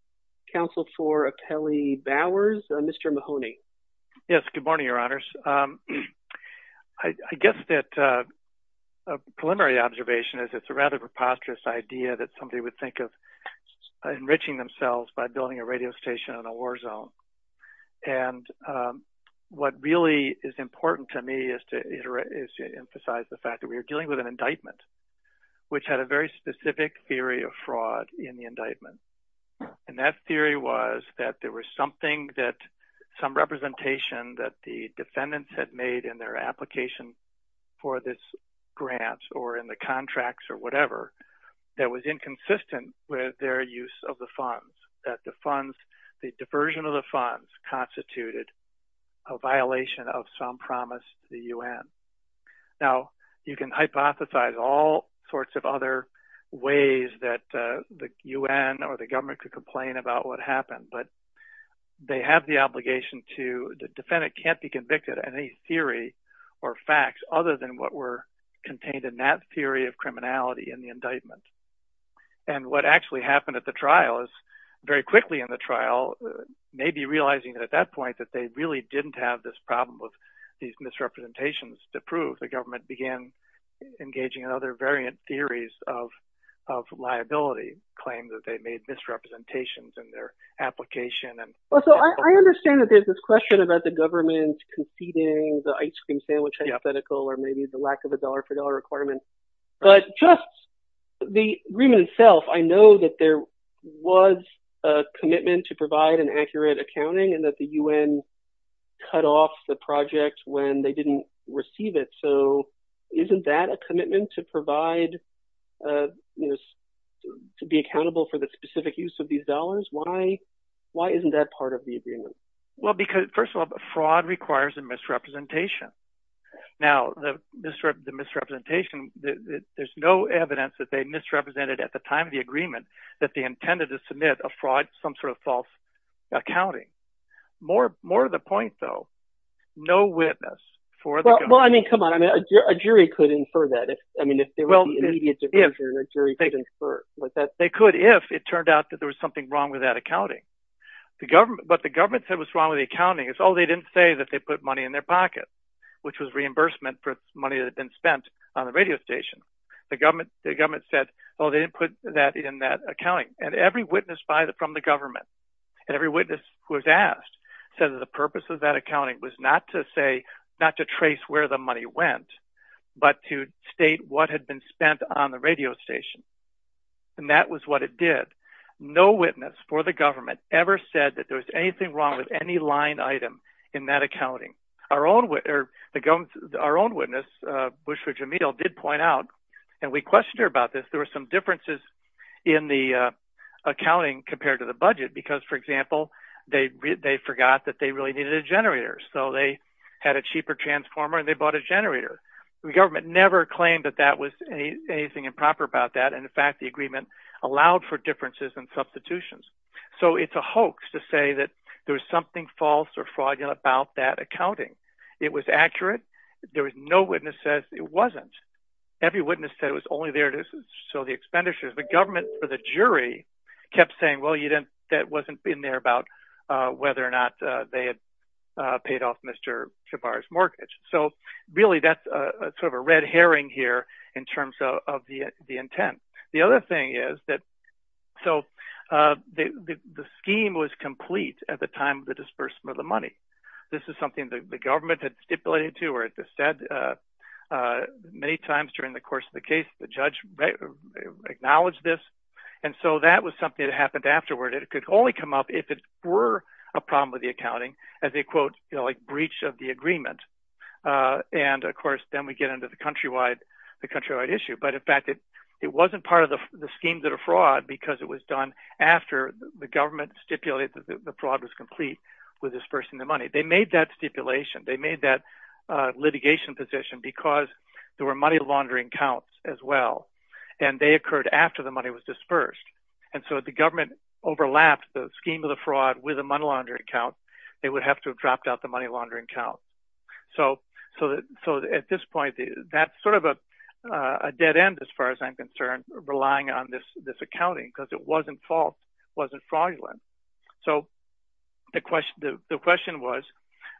counsel for Apelli Bowers. Mr. Mahoney. Good morning, Your Honors. I guess that a preliminary observation is that it's a rather preposterous idea that somebody would think of enriching themselves by building a radio station in a war zone and what really is important to me is to emphasize the fact that we are dealing with an indictment and that theory was that there was something that some representation that the defendants had made in their application for this grant or in the contracts or whatever that was inconsistent with their use of the funds that the diversion of the funds constituted a violation of some promise to the U.N. Now, you can hypothesize all sorts of other ways that the U.N. or the government could complain about what happened but they have the obligation to the defendant can't be convicted of any theory or facts other than what were contained in that theory of criminality in the indictment and what actually happened at the trial is very quickly in the trial maybe realizing that at that point that they really didn't have this problem with these misrepresentations to prove their application. I understand that there is this question about the government conceding the ice cream sandwich hypothetical or maybe the lack of a dollar for dollar requirement but just the agreement itself I know that there was a commitment to provide an accurate accounting and that the U.N. cut off the project when they didn't receive it so isn't that a commitment to provide these dollars? Why isn't that part of the agreement? Well, first of all, the fraud requires a misrepresentation Now, the misrepresentation there's no evidence that they misrepresented at the time of the agreement that they intended to submit a fraud some sort of false accounting More of the point though No witness for the government Well, I mean, come on, a jury could infer that there was something wrong with that accounting but the government said what's wrong with the accounting it's all they didn't say that they put money in their pocket which was reimbursement for money that had been spent on the radio station the government said, oh, they didn't put that in that accounting and every witness from the government and every witness who was asked said that the purpose of that accounting was not to say, not to trace where the money went No witness for the government ever said that there was anything wrong with any line item in that accounting Our own witness, Bushford Jameel did point out, and we questioned her about this there were some differences in the accounting compared to the budget because, for example, they forgot that they really needed a generator so they had a cheaper transformer and they bought a generator The government never claimed that that was anything improper about that and, in fact, the agreement allowed for differences So it's a hoax to say that there's something false or fraudulent about that accounting It was accurate, there were no witnesses, it wasn't Every witness said it was only there to show the expenditures The government, for the jury, kept saying that wasn't in there about whether or not they had paid off Mr. Shabar's mortgage So, really, that's sort of a red herring here in terms of the intent The other thing is that the scheme was complete at the time of the disbursement of the money This is something that the government had stipulated to or had said many times during the course of the case The judge acknowledged this and so that was something that happened afterward It could only come up if it were a problem with the accounting as a, quote, breach of the agreement And, of course, then we get into the country-wide issue But, in fact, it wasn't part of the scheme of the fraud The government stipulated that the fraud was complete with disbursing the money They made that stipulation, they made that litigation position because there were money laundering counts as well And they occurred after the money was disbursed And so if the government overlapped the scheme of the fraud with a money laundering count they would have to have dropped out the money laundering count So, at this point, that's sort of a dead end as far as I'm concerned, relying on this accounting wasn't fraudulent So, the question was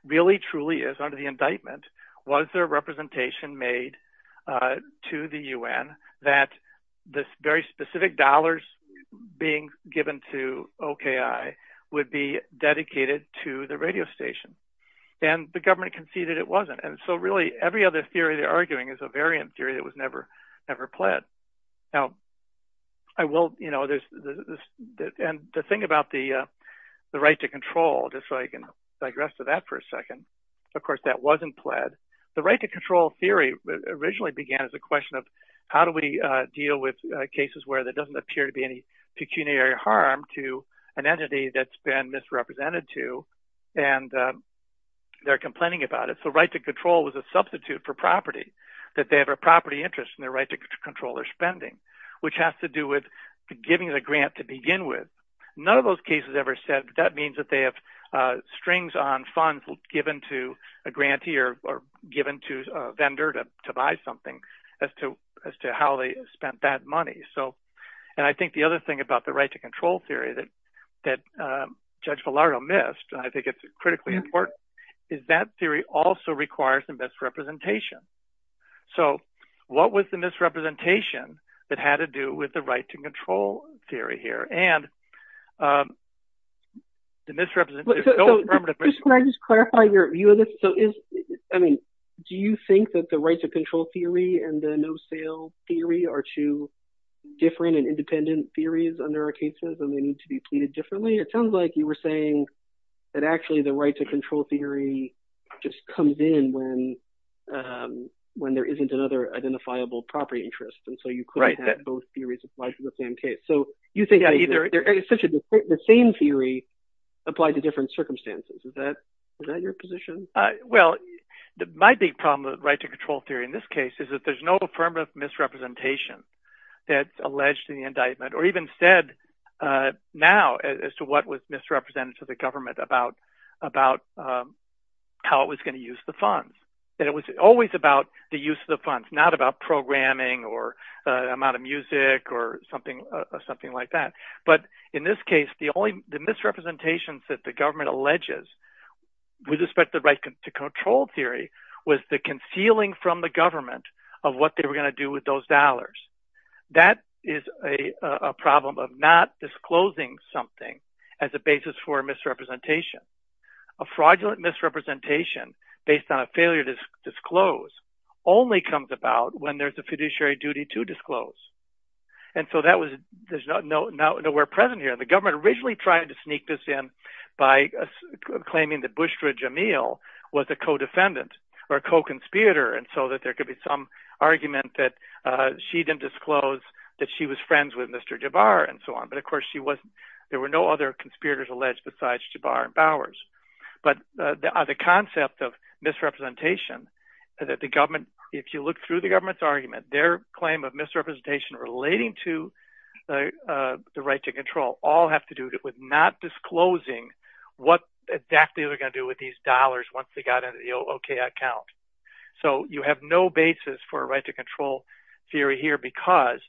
really, truly, as under the indictment was there representation made to the UN that this very specific dollars being given to OKI would be dedicated to the radio station And the government conceded it wasn't And so, really, every other theory they're arguing is a variant theory that was never pledged The thing about the right to control just so I can digress to that for a second Of course, that wasn't pled The right to control theory originally began as a question of how do we deal with cases where there doesn't appear to be any pecuniary harm to an entity that's been misrepresented to and they're complaining about it So, right to control was a substitute for property that they have a property interest in the right to control their spending None of those cases ever said that that means that they have strings on funds given to a grantee or given to a vendor to buy something as to how they spent that money And I think the other thing about the right to control theory that Judge Villardo missed and I think it's critically important is that theory also requires the misrepresentation So, what was the misrepresentation that had to do with the right to control theory here? The misrepresentation Can I just clarify your view on this? Do you think that the right to control theory and the no sale theory are two different and independent theories under our cases and they need to be pleaded differently? It sounds like you were saying that actually the right to control theory just comes in when there isn't another identifiable property interest and so you couldn't have both theories applied to the same case The same theory applied to different circumstances Is that your position? Well, my big problem with the right to control theory in this case is that there's no affirmative misrepresentation that's alleged in the indictment or even said now as to what was misrepresented to the government about how it was going to use the funds It was always about the use of the funds not about programming or the amount of music or something like that The misrepresentation that the government alleges with respect to the right to control theory was the concealing from the government of what they were going to do with those dollars That is a problem of not disclosing something as a basis for misrepresentation A fraudulent misrepresentation based on a failure to disclose only comes about when there's a fiduciary duty to disclose And so that was nowhere present here The government occasionally tried to sneak this in by claiming that Bushra Jameel was a co-defendant or a co-conspirator and so that there could be some argument that she didn't disclose that she was friends with Mr. Jabbar But of course there were no other conspirators alleged besides Jabbar and Bowers But the concept of misrepresentation if you look through the government's argument their claim of misrepresentation relating to not disclosing what exactly they were going to do with these dollars once they got into the O.K. account So you have no basis for a right to control theory here because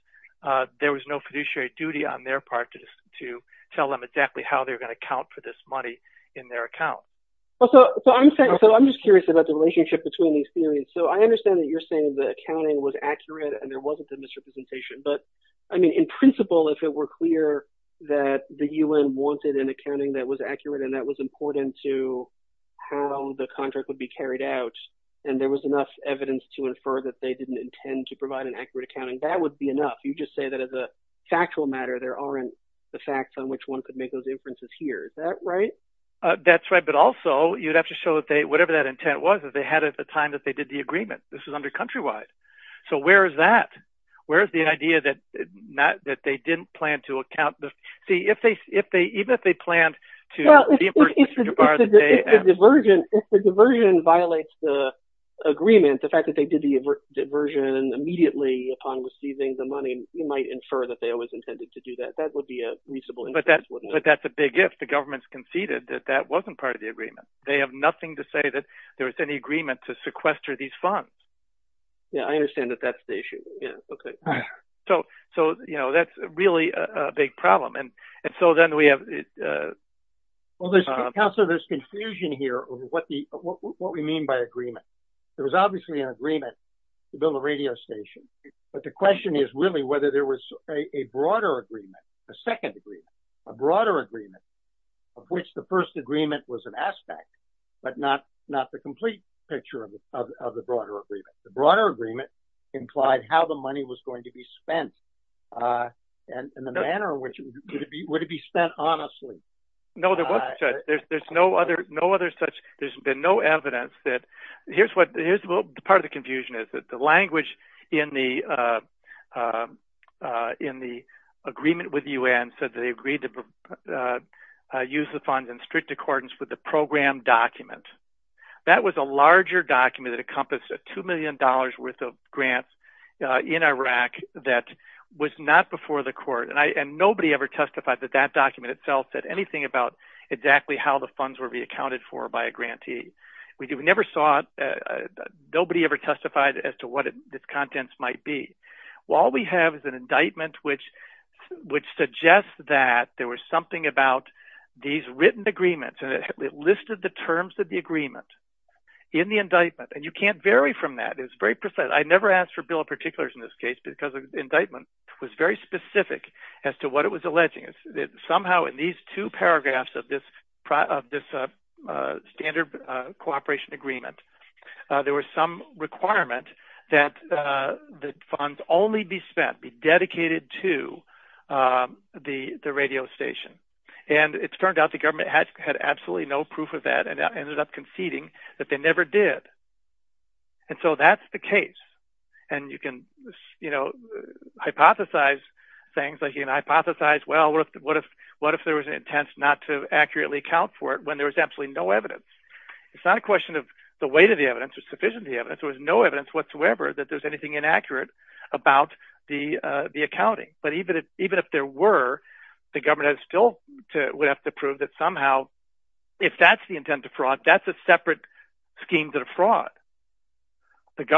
there was no fiduciary duty on their part to tell them exactly how they were going to count for this money in their account So I'm just curious about the relationship between these theories So I understand that you're saying the accounting was accurate and there wasn't the misrepresentation But I mean in principle if it were clear that someone wanted an accounting that was accurate and that was important to how the contract would be carried out and there was enough evidence to infer that they didn't intend to provide an accurate accounting that would be enough You just say that as a factual matter there aren't the facts on which one could make those inferences here Is that right? That's right but also you'd have to show that whatever that intent was that they had at the time Even if they planned to If the diversion violates the agreement the fact that they did the diversion immediately upon receiving the money you might infer that it was intended to do that But that's a big if. The government has conceded that that wasn't part of the agreement They have nothing to say that there was any agreement to sequester these funds So that's really a big problem Counselor, there's confusion here over what we mean by agreement There was obviously an agreement to build a radio station But the question is really whether there was a broader agreement a second agreement, a broader agreement of which the first agreement was an aspect but not the complete picture of the broader agreement The broader agreement implied how the money was going to be spent and the manner in which it would be spent Absolutely There's been no evidence Part of the confusion is that the language in the agreement with the UN said that they agreed to use the funds in strict accordance with the program document That was a larger document that encompassed a $2 million worth of grant in Iraq that was not before the court and nobody ever testified that that document itself said anything about exactly how the funds would be accounted for by a grantee Nobody ever testified as to what the contents might be All we have is an indictment which suggests that there was something about these written agreements and it listed the terms of the agreement in the indictment and you can't vary from that I never asked for a bill of particulars in this case because the indictment was very specific There were at least two paragraphs of this standard cooperation agreement There was some requirement that the funds only be spent be dedicated to the radio station and it turned out that the government had absolutely no proof of that and ended up conceding that they never did and so that's the case and you can hypothesize things that the government had the intent not to accurately account for it when there was absolutely no evidence It's not a question of the weight of the evidence there was no evidence whatsoever that there was anything inaccurate about the accounting but even if there were the government would still have to prove that's a separate scheme to the fraud and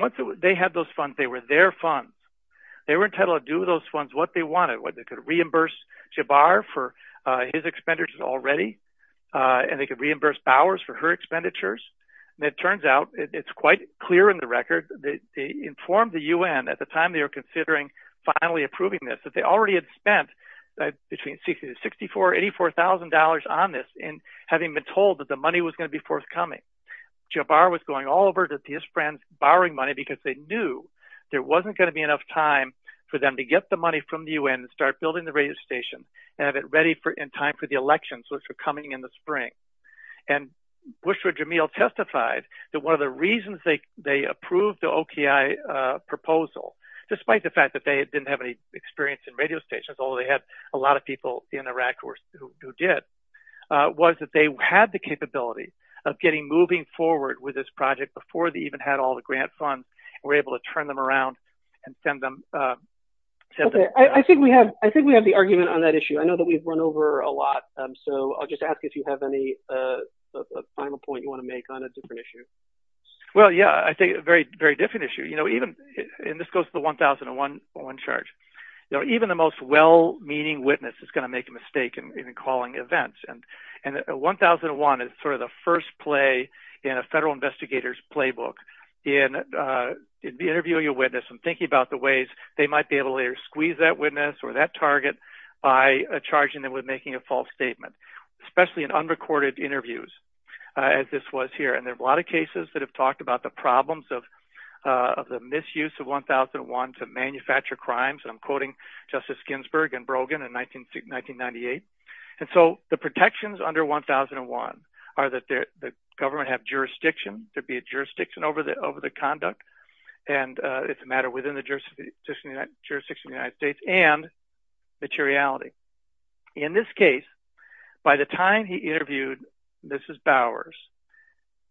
once they had those funds they were their funds they were entitled to do those funds what they wanted they could reimburse Jabbar for his expenditures already and they could reimburse Bowers for her expenditures and it turns out, it's quite clear in the record they informed the UN at the time they were considering finally approving this that they already had spent between $64,000 and $84,000 on this and having been told that the money was going to be forthcoming they heard that the Israelis were borrowing money because they knew there wasn't going to be enough time for them to get the money from the UN and start building the radio station and have it ready in time for the elections which were coming in the spring and Bushra Jamil testified that one of the reasons they approved the OKI proposal despite the fact that they didn't have any experience in radio stations, although they had a lot of people before they even had all the grant funds were able to turn them around and send them... I think we have the argument on that issue I know that we've run over a lot so I'll just ask if you have any final point you want to make on a different issue Well, yeah, I think it's a very different issue and this goes to the 1001 charge even the most well-meaning witness is going to make a mistake in calling events in the book, in interviewing a witness and thinking about the ways they might be able to squeeze that witness or that target by charging them with making a false statement especially in unrecorded interviews as this was here and there are a lot of cases that have talked about the problems of the misuse of 1001 to manufacture crimes and I'm quoting Justice Ginsburg and Brogan in 1998 and so the protections under 1001 are that the government have jurisdiction over the conduct and it's a matter within the jurisdiction of the United States and materiality. In this case by the time he interviewed Mrs. Bowers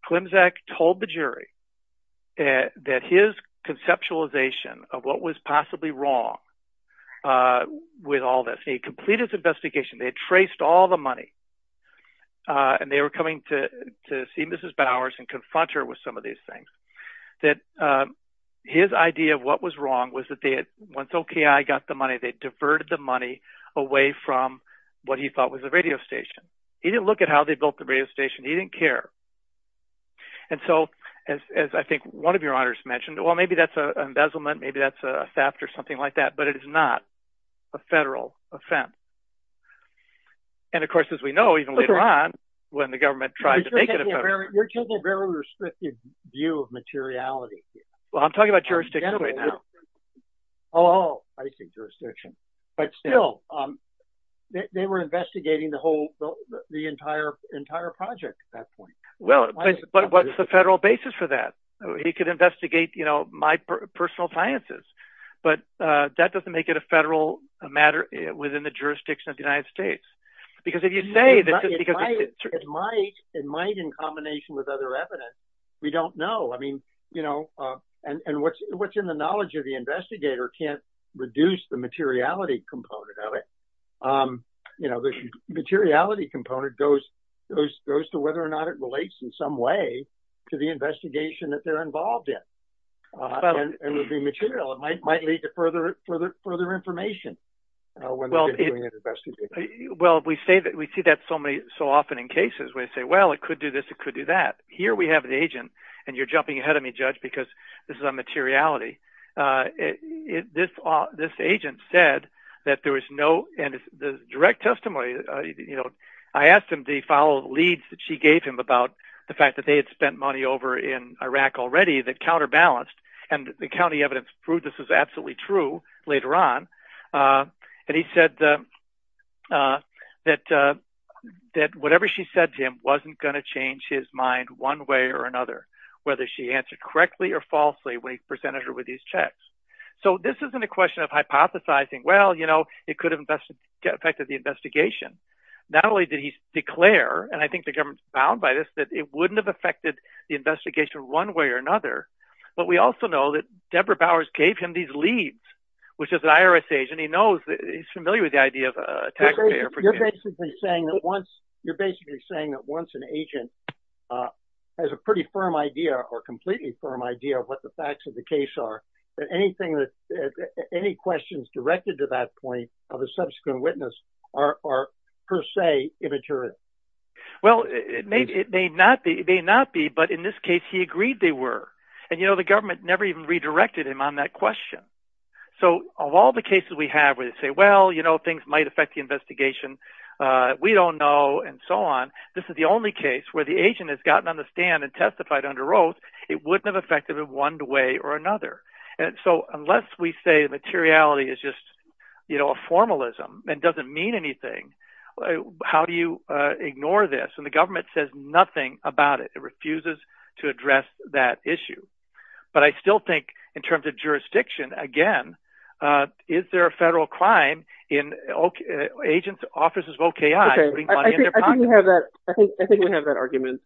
Klimczak told the jury that his conceptualization of what was possibly wrong with all this, he completed his investigation they traced all the money and they were coming to see Mrs. Bowers that his idea of what was wrong was that once OPI got the money they diverted the money away from what he thought was a radio station. He didn't look at how they built the radio station, he didn't care and so as I think one of your honors mentioned well maybe that's an embezzlement, maybe that's a theft or something like that, but it is not a federal offence and of course as we know even later on when the government tried to take it... Well, I'm talking about jurisdiction Oh, I see, jurisdiction But still, they were investigating the entire project at that point Well, what's the federal basis for that? He could investigate my personal sciences but that doesn't make it a federal matter within the jurisdiction of the United States Because if you say... It might in combination with other evidence and what's in the knowledge of the investigator can't reduce the materiality component of it The materiality component goes to whether or not it relates in some way to the investigation that they're involved in and will be material It might lead to further information Well, we see that so often in cases where they say, well it could do this, it could do that Here we have an agent and you're jumping ahead of me, Judge, because this is on materiality This agent said that there was no... and the direct testimony I asked him to follow the leads that she gave him about the fact that they had spent money over in Iraq already that counterbalanced and the county evidence proved this was absolutely true later on and he said that whatever she said to him wasn't going to change his mind one way or another whether he understood correctly or falsely when he presented her with these checks So this isn't a question of hypothesizing Well, you know, it could have affected the investigation Not only did he declare, and I think the government was bound by this, that it wouldn't have affected the investigation one way or another but we also know that Deborah Bowers gave him these leads which is an IRS agent, he's familiar with the idea You're basically saying that once an agent has a pretty firm idea of what the facts of the case are that any questions directed to that point of a subsequent witness are per se immaterial Well, it may not be but in this case he agreed they were and the government never even redirected him on that question So of all the cases we have where they say well, you know, things might affect the investigation we don't know, and so on this is the only case where the agent has gotten on the stand it wouldn't have affected it one way or another So unless we say materiality is just a formalism and doesn't mean anything how do you ignore this? And the government says nothing about it it refuses to address that issue But I still think in terms of jurisdiction, again is there a federal crime in agents' offices of OKI putting money in their pockets? I think we have that argument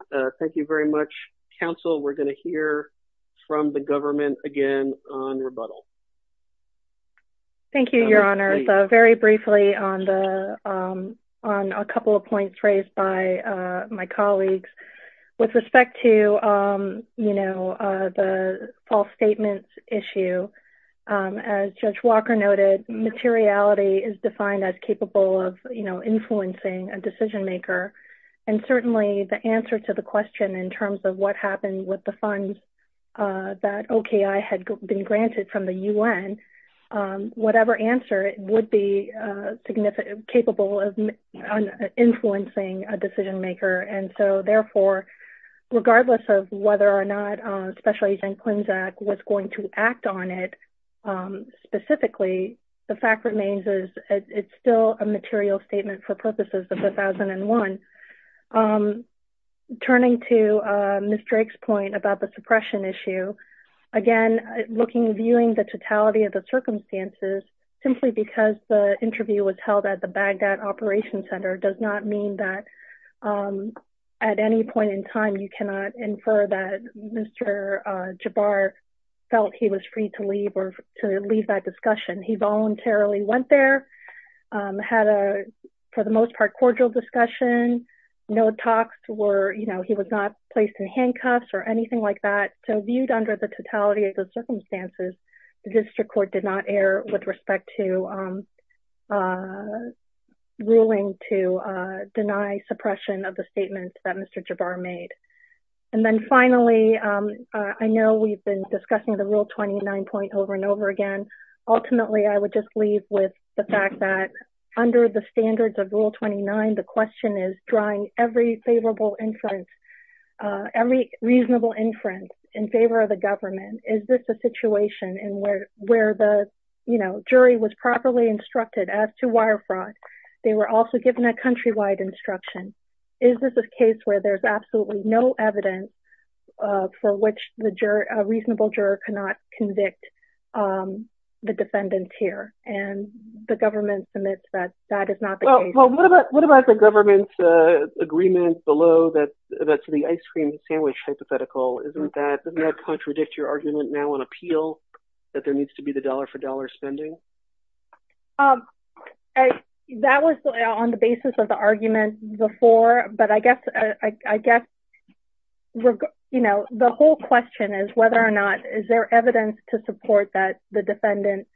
from the government, again, on rebuttal Thank you, Your Honor Very briefly on a couple of points raised by my colleagues with respect to, you know the false statements issue as Judge Walker noted materiality is defined as capable of influencing a decision maker and certainly the answer to the question that OKI had been granted from the U.N. whatever answer would be capable of influencing a decision maker and so therefore, regardless of whether or not Special Agents' Act was going to act on it specifically the fact remains it's still a material statement for purposes of 2001 Turning to Ms. Drake's point with respect to, again viewing the totality of the circumstances simply because the interview was held at the Baghdad Operations Center does not mean that at any point in time you cannot infer that Mr. Jabbar felt he was free to leave that discussion He voluntarily went there had a, for the most part, cordial discussion no talks, he was not placed in handcuffs and indeed under the totality of the circumstances the District Court did not err with respect to ruling to deny suppression of the statement that Mr. Jabbar made and then finally I know we've been discussing the Rule 29 point over and over again ultimately I would just leave with the fact that under the standards of Rule 29 the question is drawing every favorable inference every reasonable inference for the government is this a situation where the jury was properly instructed as to wire fraud they were also given a country-wide instruction is this a case where there's absolutely no evidence for which a reasonable juror cannot convict the defendants here and the government admits that that is not the case What about the government agreement below that's the ice cream sandwich hypothetical can you predict your argument now on appeal that there needs to be the dollar-for-dollar spending That was on the basis of the argument before but I guess the whole question is whether or not is there evidence to support that the defendant,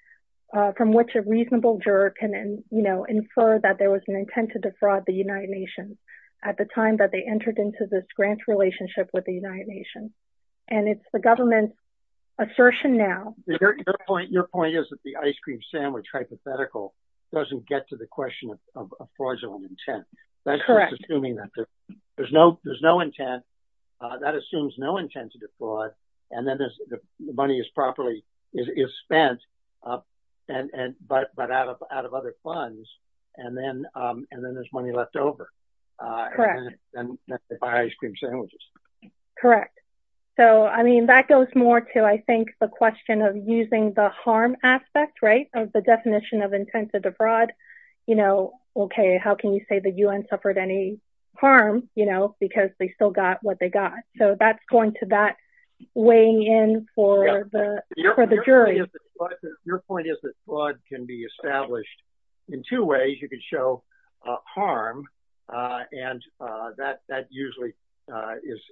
from which a reasonable juror can infer that there was an intent to defraud the United Nations at the time that they entered into this grant relationship with the United Nations that's the government assertion now Your point is that the ice cream sandwich hypothetical doesn't get to the question of fraudulent intent That's assuming that there's no intent that assumes no intent to defraud and then the money is properly spent but out of other funds and then there's money left over Correct Correct So it refers more to the question of using the harm aspect of the definition of intent to defraud How can you say the UN suffered any harm because they still got what they got So that's going to that weighing in for the jury Your point is that fraud can be established in two ways You can show harm and that usually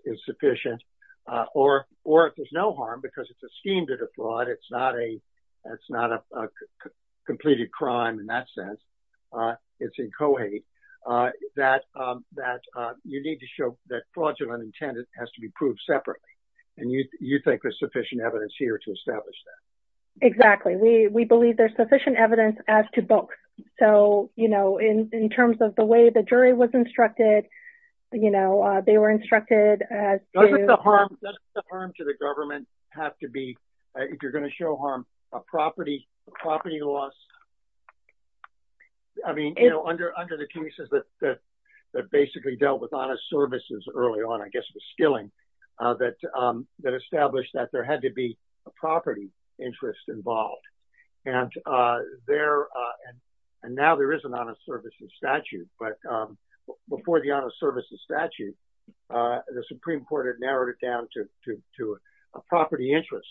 is sufficient You can show harm because it's a scheme to defraud It's not a completed crime in that sense It's in co-hate You need to show that fraudulent intent has to be proved separately and you think there's sufficient evidence here to establish that Exactly. We believe there's sufficient evidence as to book So in terms of the way the jury was instructed they were instructed Doesn't the harm to the government have to be if you're going to show harm, a property loss I mean, under the cases that basically dealt with honest services early on I guess it was Skilling that established that there had to be a property interest involved and now there is an honest services statute but before the honest services statute the Supreme Court had narrowed it down to a property interest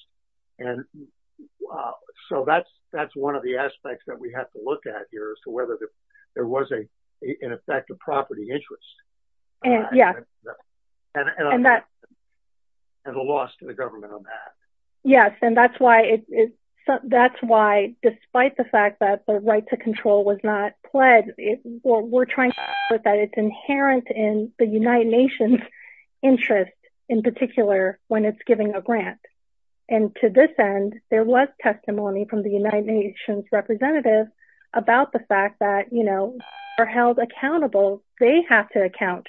So that's one of the aspects that we have to look at here as to whether there was in effect a property interest and a loss to the government on that Yes, and that's why despite the fact that the right to control was not pledged we're trying to show that it's inherent in the United Nations interest and to this end there was testimony from the United Nations representatives about the fact that they are held accountable they have to account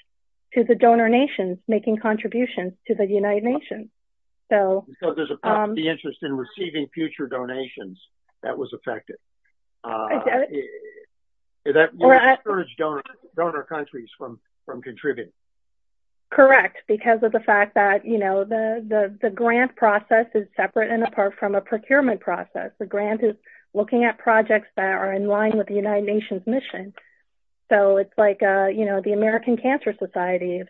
to the donor nations making contributions to the United Nations So there's a property interest in receiving future donations that was affected that would discourage donor countries from contributing Correct The grant process is separate and apart from a procurement process The grant is looking at projects that are in line with the United Nations mission So it's like the American Cancer Society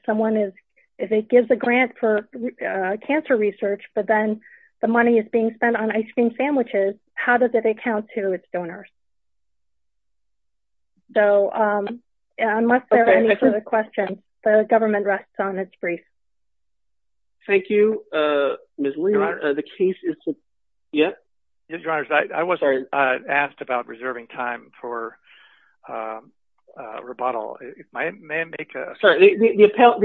if it gives a grant for cancer research but then the money is being spent on ice cream sandwiches how does it account to its donors? So unless there are any other questions the government rests on its grief The case is submitted I wasn't asked about reserving time for rebuttal The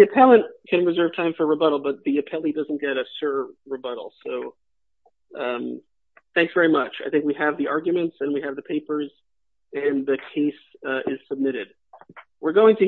appellate can reserve time for rebuttal but the appellee doesn't get a sure rebuttal So thanks very much I think we have the arguments and we have the papers and the case is submitted